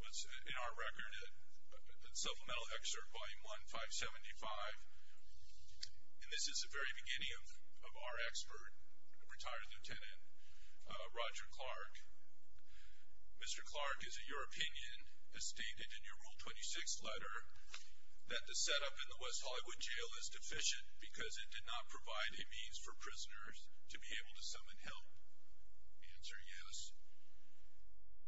what's in our record, a supplemental excerpt, Volume 1, 575. And this is the very beginning of our expert, retired lieutenant Roger Clark. Mr. Clark, is it your opinion, as stated in your Rule 26 letter, that the setup in the West Hollywood Jail is deficient because it did not provide a means for prisoners to be able to summon help? Answer, yes.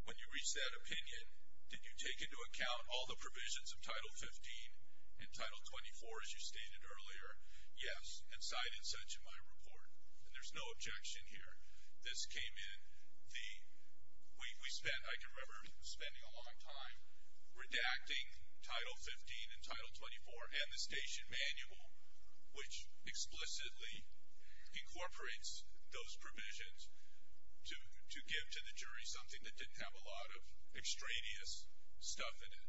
When you reached that opinion, did you take into account all the provisions of Title 15 and Title 24, as you stated earlier? Yes, and cited such in my report. And there's no objection here. This came in the, we spent, I can remember spending a long time redacting Title 15 and Title 24 and the station manual, which explicitly incorporates those provisions to give to the jury something that didn't have a lot of extraneous stuff in it,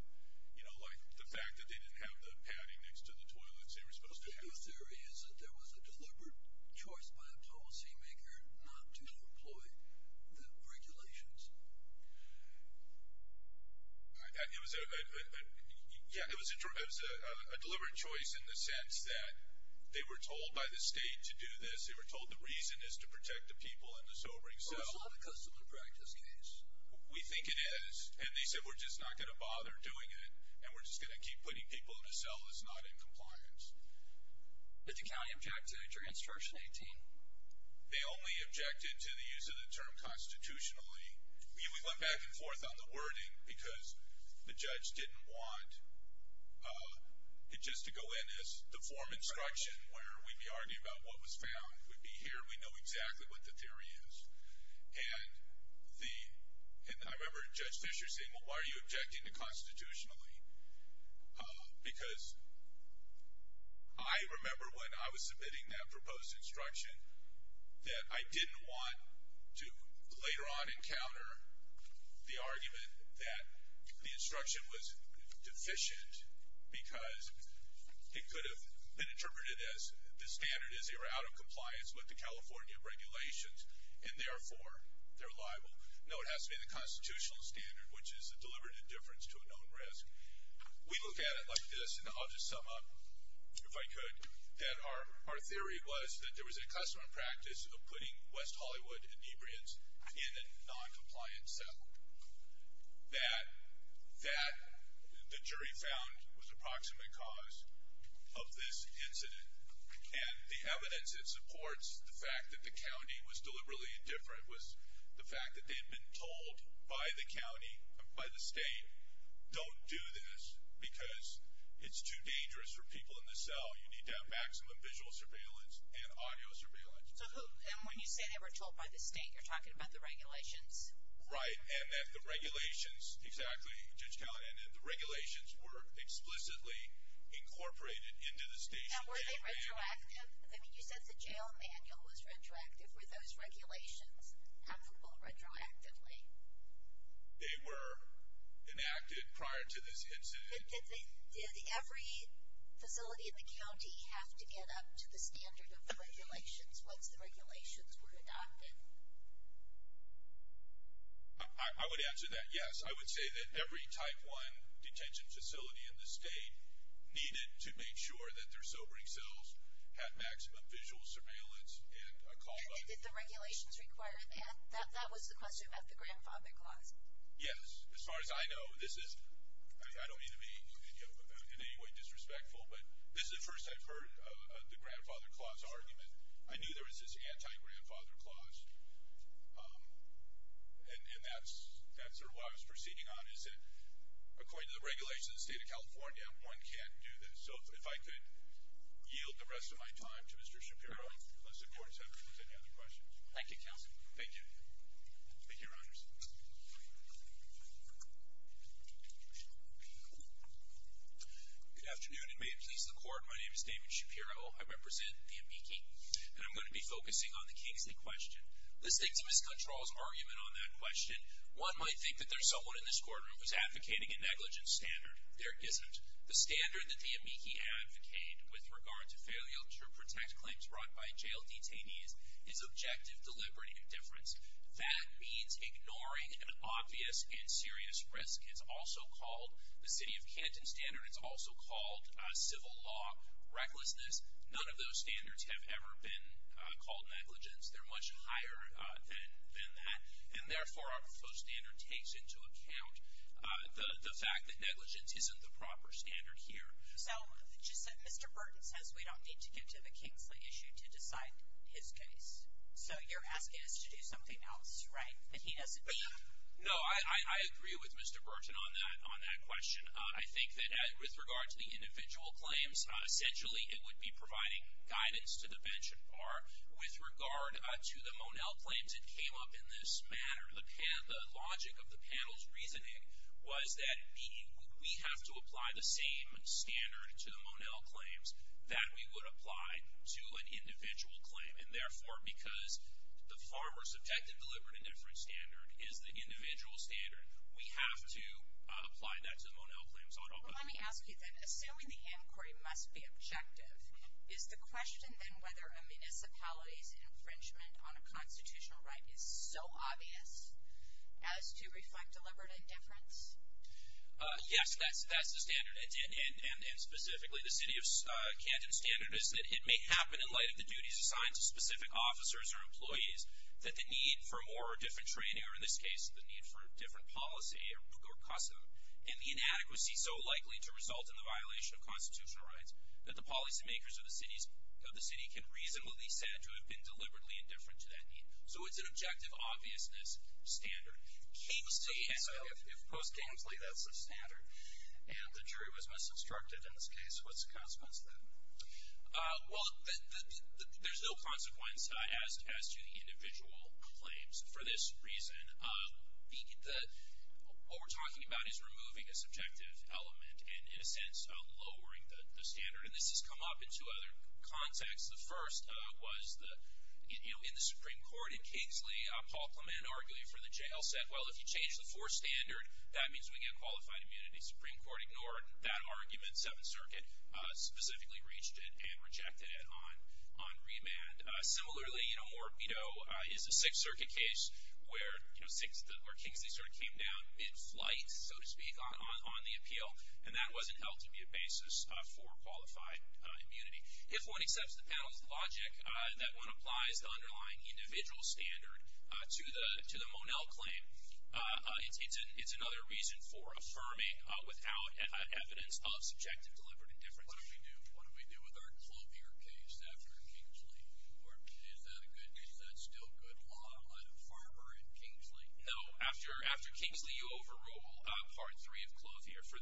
you know, like the fact that they didn't have the padding next to the toilets they were supposed to have. But the theory is that there was a deliberate choice by a policymaker not to employ the regulations. It was a, yeah, it was a deliberate choice in the sense that they were told by the state to do this. They were told the reason is to protect the people in the sobering cell. Well, it's not a custom and practice case. We think it is. And they said we're just not going to bother doing it and we're just going to keep putting people in the cell that's not in compliance. Did the county object to it during Instruction 18? They only objected to the use of the term constitutionally. We went back and forth on the wording because the judge didn't want it just to go in as the form instruction where we'd be arguing about what was found. We'd be here, we'd know exactly what the theory is. And I remember Judge Fisher saying, well, why are you objecting to constitutionally? Because I remember when I was submitting that proposed instruction that I didn't want to later on encounter the argument that the instruction was deficient because it could have been interpreted as the standard is they were out of compliance with the California regulations and therefore they're liable. No, it has to be the constitutional standard, which is a deliberate indifference to a known risk. We look at it like this, and I'll just sum up if I could, that our theory was that there was a custom and practice of putting West Hollywood inebriants in a noncompliant cell. That the jury found was the proximate cause of this incident. And the evidence that supports the fact that the county was deliberately indifferent was the fact that they'd been told by the county, by the state, don't do this because it's too dangerous for people in the cell. You need to have maximum visual surveillance and audio surveillance. So who, and when you say they were told by the state, you're talking about the regulations? Right, and that the regulations, exactly, Judge Callahan, that the regulations were explicitly incorporated into the state's opinion. Now, were they retroactive? I mean, you said the jail manual was retroactive. Were those regulations applicable retroactively? They were enacted prior to this incident. Did every facility in the county have to get up to the standard of the regulations once the regulations were adopted? I would answer that yes. I would say that every type one detention facility in the state needed to make sure that their sobering cells had maximum visual surveillance and a call button. And did the regulations require that? That was the question about the grandfather clause. Yes. As far as I know, this is, I don't mean to be in any way disrespectful, but this is the first I've heard of the grandfather clause argument. I knew there was this anti-grandfather clause, and that's sort of what I was proceeding on, is that according to the regulations of the state of California, one can't do this. So if I could yield the rest of my time to Mr. Shapiro, unless the Court has any other questions. Thank you, Counsel. Thank you. Thank you, Your Honors. Good afternoon, and may it please the Court, my name is David Shapiro. I represent the Amici, and I'm going to be focusing on the Kingsley question. The state's miscontrols argument on that question, one might think that there's someone in this courtroom who's advocating a negligence standard. There isn't. The standard that the Amici advocate with regard to failure to protect claims brought by jail detainees is objective, deliberate indifference. That means ignoring an obvious and serious risk. It's also called, the city of Canton standard, it's also called civil law recklessness. None of those standards have ever been called negligence. They're much higher than that. And therefore, our proposed standard takes into account the fact that negligence isn't the proper standard here. So just that Mr. Burton says we don't need to get to the Kingsley issue to decide his case. So you're asking us to do something else, right? That he doesn't need? No, I agree with Mr. Burton on that question. I think that with regard to the individual claims, essentially it would be providing guidance to the bench and bar. With regard to the Monell claims, it came up in this manner. The logic of the panel's reasoning was that we have to apply the same standard to the Monell claims that we would apply to an individual claim. And therefore, because the farmer's objective deliberate indifference standard is the individual standard, we have to apply that to the Monell claims automatically. Well, let me ask you then, assuming the inquiry must be objective, is the question then whether a municipality's infringement on a constitutional right is so obvious as to reflect deliberate indifference? Yes, that's the standard. And specifically, the city of Canton's standard is that it may happen in light of the duties assigned to specific officers or employees that the need for more or different training, or in this case, the need for different policy, and the inadequacy so likely to result in the violation of constitutional rights that the policymakers of the city can reasonably be said to have been deliberately indifferent to that need. So it's an objective obviousness standard. If post-Kingsley, that's the standard, and the jury was misconstructed in this case, what's the consequence then? Well, there's no consequence as to the individual claims for this reason. What we're talking about is removing a subjective element and, in a sense, lowering the standard. And this has come up in two other contexts. The first was in the Supreme Court in Kingsley, Paul Clement argued for the jail set. Well, if you change the fourth standard, that means we get qualified immunity. Supreme Court ignored that argument. Seventh Circuit specifically reached it and rejected it on remand. Similarly, more veto is the Sixth Circuit case where Kingsley sort of came down mid-flight, so to speak, on the appeal, and that wasn't held to be a basis for qualified immunity. If one accepts the panel's logic that one applies the underlying individual standard to the Monell claim, it's another reason for affirming without evidence of subjective deliberate indifference. What do we do with our Clothier case after Kingsley? Is that still good law, either far or in Kingsley? No, after Kingsley you overrule Part 3 of Clothier. For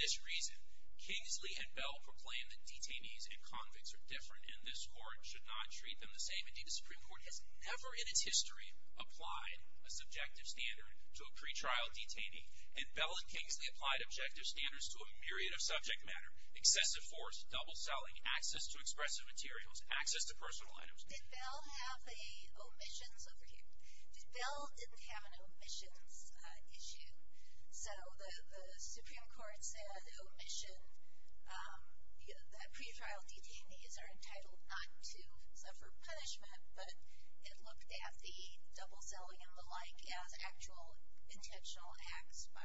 this reason, Kingsley and Bell proclaim that detainees and convicts are different, and this Court should not treat them the same. Indeed, the Supreme Court has never in its history applied a subjective standard to a pretrial detainee, and Bell and Kingsley applied objective standards to a myriad of subject matter. Excessive force, double selling, access to expressive materials, access to personal items. Did Bell have a omissions over here? Did Bell have an omissions issue? So the Supreme Court said omission, that pretrial detainees are entitled not to suffer punishment, but it looked at the double selling and the like as actual intentional acts by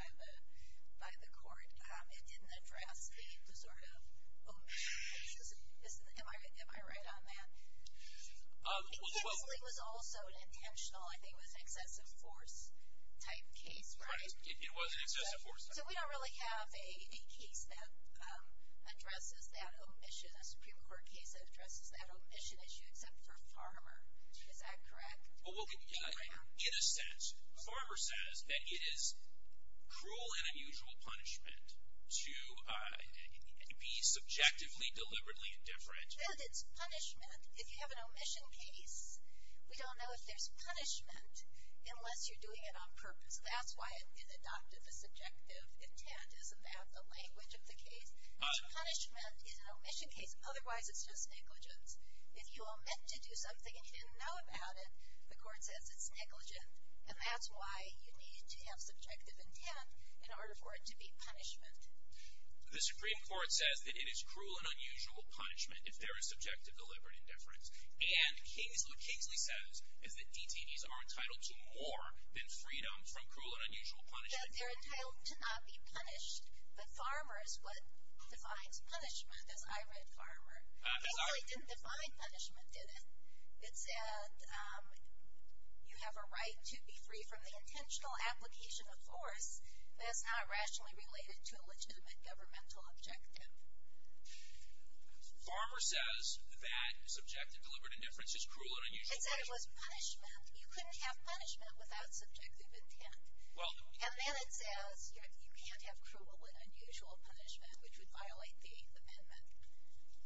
the Court. It didn't address the sort of omission issues. Am I right on that? Kingsley was also an intentional, I think it was an excessive force type case, right? Right, it was an excessive force type case. So we don't really have a case that addresses that omission, a Supreme Court case that addresses that omission issue, except for Farmer. Is that correct? In a sense, Farmer says that it is cruel and unusual punishment to be subjectively, deliberately indifferent. But it's punishment. If you have an omission case, we don't know if there's punishment unless you're doing it on purpose. That's why it adopted the subjective intent. Isn't that the language of the case? Punishment is an omission case. Otherwise, it's just negligence. If you are meant to do something and you didn't know about it, the Court says it's negligent. And that's why you need to have subjective intent in order for it to be punishment. The Supreme Court says that it is cruel and unusual punishment if there is subjective, deliberate indifference. And what Kingsley says is that detainees are entitled to more than freedom from cruel and unusual punishment. It said they're entitled to not be punished. But Farmer is what defines punishment, as I read Farmer. Kingsley didn't define punishment, did it? It said you have a right to be free from the intentional application of force that is not rationally related to a legitimate governmental objective. Farmer says that subjective, deliberate indifference is cruel and unusual punishment. It said it was punishment. You couldn't have punishment without subjective intent. And then it says you can't have cruel and unusual punishment, which would violate the amendment.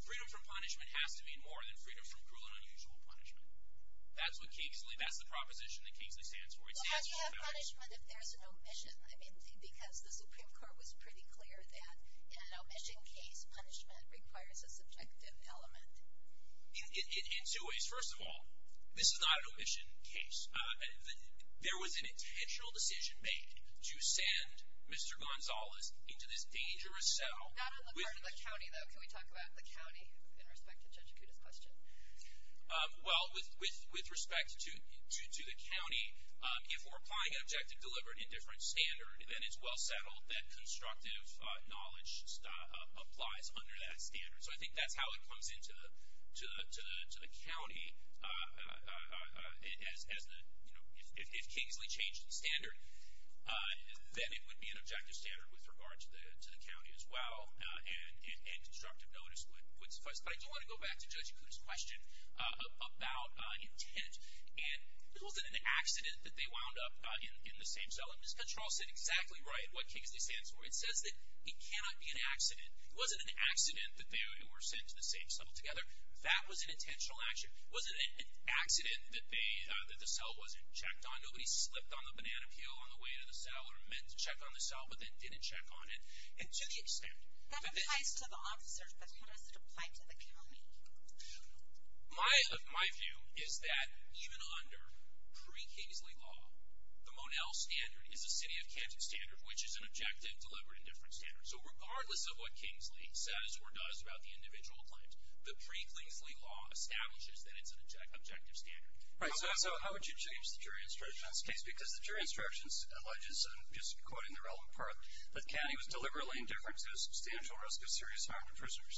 Freedom from punishment has to mean more than freedom from cruel and unusual punishment. That's what Kingsley, that's the proposition that Kingsley stands for. Well, how do you have punishment if there's an omission? I mean, because the Supreme Court was pretty clear that in an omission case, punishment requires a subjective element. In two ways. First of all, this is not an omission case. There was an intentional decision made to send Mr. Gonzalez into this dangerous cell. Not on the part of the county, though. Can we talk about the county in respect to Judge Acuda's question? Well, with respect to the county, if we're applying an objective, deliberate indifference standard, then it's well settled that constructive knowledge applies under that standard. So I think that's how it comes into the county as the, you know, if Kingsley changed the standard, then it would be an objective standard with regard to the county as well. And constructive notice would suffice. But I do want to go back to Judge Acuda's question about intent. And it wasn't an accident that they wound up in the same cell. His control said exactly right what Kingsley stands for. It says that it cannot be an accident. It wasn't an accident that they were sent to the same cell together. That was an intentional action. It wasn't an accident that the cell wasn't checked on. Nobody slipped on the banana peel on the way to the cell or meant to check on the cell but then didn't check on it. To the extent. That applies to the officers, but how does it apply to the county? My view is that even under pre-Kingsley law, the Monell standard is a city of Kansas standard, which is an objective, deliberate indifference standard. So regardless of what Kingsley says or does about the individual claims, the pre-Kingsley law establishes that it's an objective standard. Right. So how would you change the jury instructions case? Because the jury instructions alleges, and I'm just quoting the relevant part, that the county was deliberately indifferent to the substantial risk of serious harm to prisoners.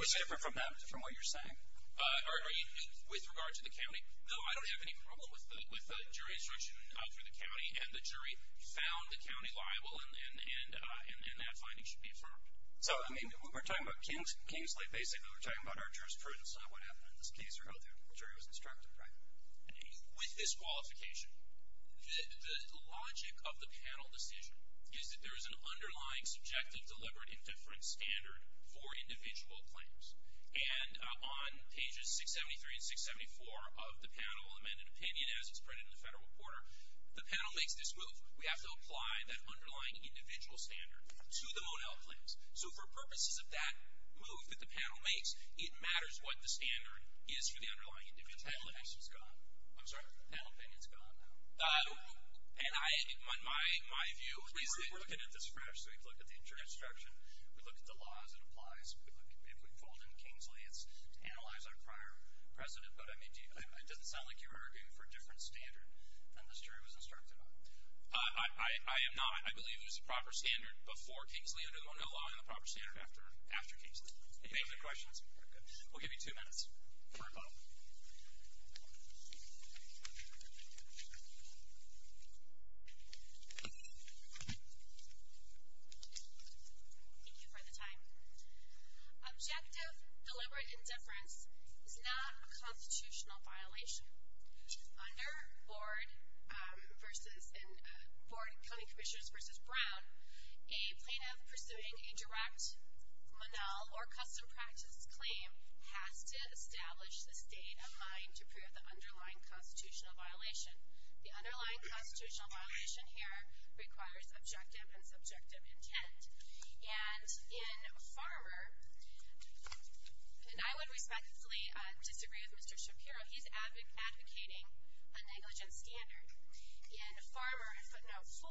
Which is different from what you're saying? With regard to the county, no, I don't have any problem with the jury instruction for the county. And the jury found the county liable and that finding should be affirmed. So, I mean, when we're talking about Kingsley, basically we're talking about our jurisprudence, not what happened in this case or how the jury was instructed, right? With this qualification, the logic of the panel decision is that there is an underlying subjective, deliberate indifference standard for individual claims. And on pages 673 and 674 of the panel amended opinion, as it's printed in the Federal Reporter, the panel makes this move. We have to apply that underlying individual standard to the Monell claims. So for purposes of that move that the panel makes, it matters what the standard is for the underlying individual claims. The panel opinion is gone. I'm sorry? The panel opinion is gone now. And my view is that we're looking at this fresh. We look at the jury instruction. We look at the law as it applies. If we fold in Kingsley, it's analyzed on prior precedent. But, I mean, it doesn't sound like you were arguing for a different standard than this jury was instructed on. I am not. I believe it was the proper standard before Kingsley under the Monell law and the proper standard after Kingsley. Any other questions? Very good. We'll give you two minutes for a vote. Thank you for the time. Objective, deliberate indifference is not a constitutional violation. Under Board County Commissioners v. Brown, a plaintiff pursuing a direct Monell or custom practice claim has to establish the state of mind to prove the underlying constitutional violation. The underlying constitutional violation here requires objective and subjective intent. And in Farmer, and I would respectfully disagree with Mr. Shapiro, he's advocating a negligent standard. In Farmer, footnote 4,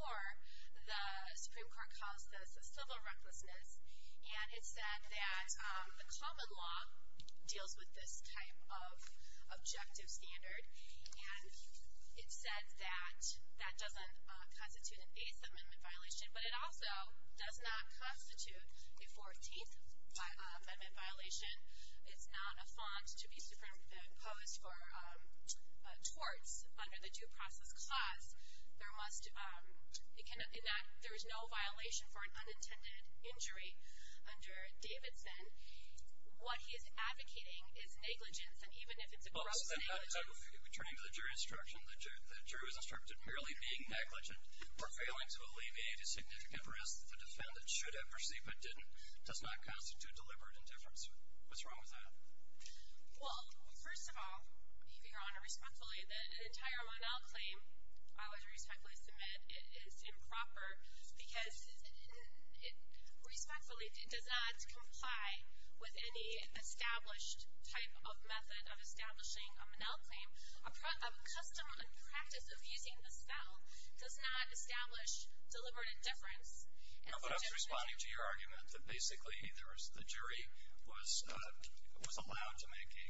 the Supreme Court calls this a civil recklessness. And it said that the common law deals with this type of objective standard. And it said that that doesn't constitute a base amendment violation, but it also does not constitute a 14th amendment violation. It's not a font to be superimposed for torts under the due process clause. There is no violation for an unintended injury under Davidson. What he is advocating is negligence, and even if it's a gross negligence. If we turn to the jury's instruction, the jury's instruction merely being negligent or failing to alleviate a significant risk that the defendant should have perceived but didn't does not constitute deliberate indifference. What's wrong with that? Well, first of all, Your Honor, respectfully, the entire Monell claim I would respectfully submit is improper because it respectfully does not comply with any established type of method of establishing a Monell claim. A custom and practice of using the spell does not establish deliberate indifference. But I was responding to your argument that basically the jury was allowed to make a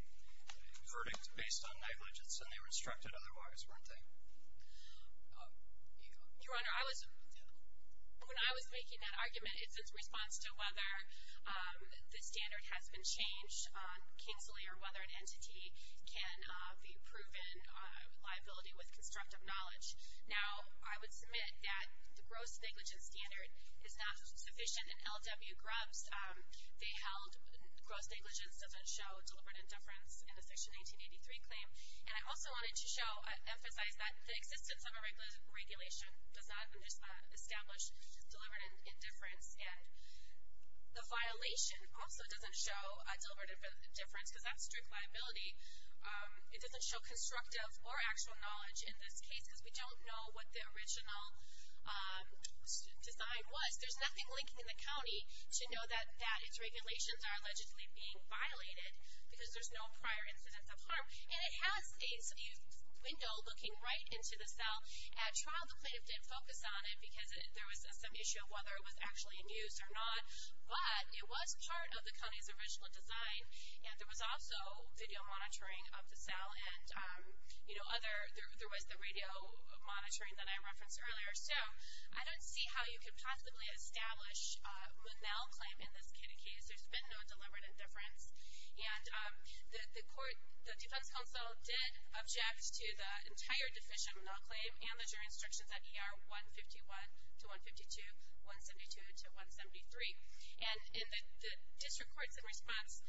verdict based on negligence and they were instructed otherwise, weren't they? Your Honor, when I was making that argument, it's in response to whether the standard has been changed on Kingsley or whether an entity can be proven liability with constructive knowledge. Now, I would submit that the gross negligence standard is not sufficient in L.W. Grubbs. They held gross negligence doesn't show deliberate indifference in the Section 1983 claim. And I also wanted to emphasize that the existence of a regulation does not establish deliberate indifference. The violation also doesn't show deliberate indifference because that's strict liability. It doesn't show constructive or actual knowledge in this case because we don't know what the original design was. There's nothing linking the county to know that its regulations are allegedly being violated because there's no prior incidents of harm. And it has a window looking right into the cell. At trial, the plaintiff didn't focus on it because there was some issue of whether it was actually in use or not, but it was part of the county's original design and there was also video monitoring of the cell and there was the radio monitoring that I referenced earlier. So I don't see how you could possibly establish a Monell claim in this case. There's been no deliberate indifference. And the defense counsel did object to the entire deficient Monell claim and the jury instructions at ER 151 to 152, 172 to 173. And the district courts in response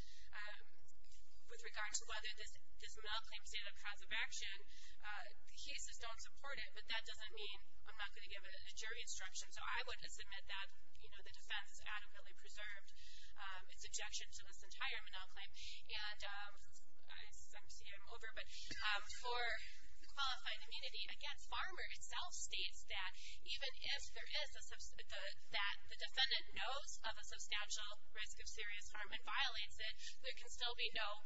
with regard to whether this Monell claim stated a cause of action, the cases don't support it, but that doesn't mean I'm not going to give a jury instruction. So I would submit that, you know, the defense adequately preserved its objection to this entire Monell claim. And I see I'm over, but for qualified immunity against farmer itself states that even if there is a that the defendant knows of a substantial risk of serious harm and violates it, there can still be no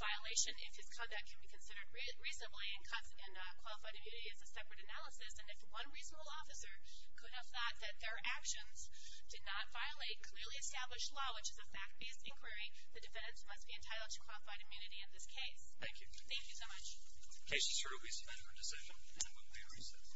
violation if his conduct can be considered reasonably and qualified immunity is a separate analysis. And if one reasonable officer could have thought that their actions did not violate clearly established law, which is a fact-based inquiry, the defendants must be entitled to qualified immunity in this case. Thank you. Thank you so much. The case is heard. We submit our decision. And we will be at recess. Thank you.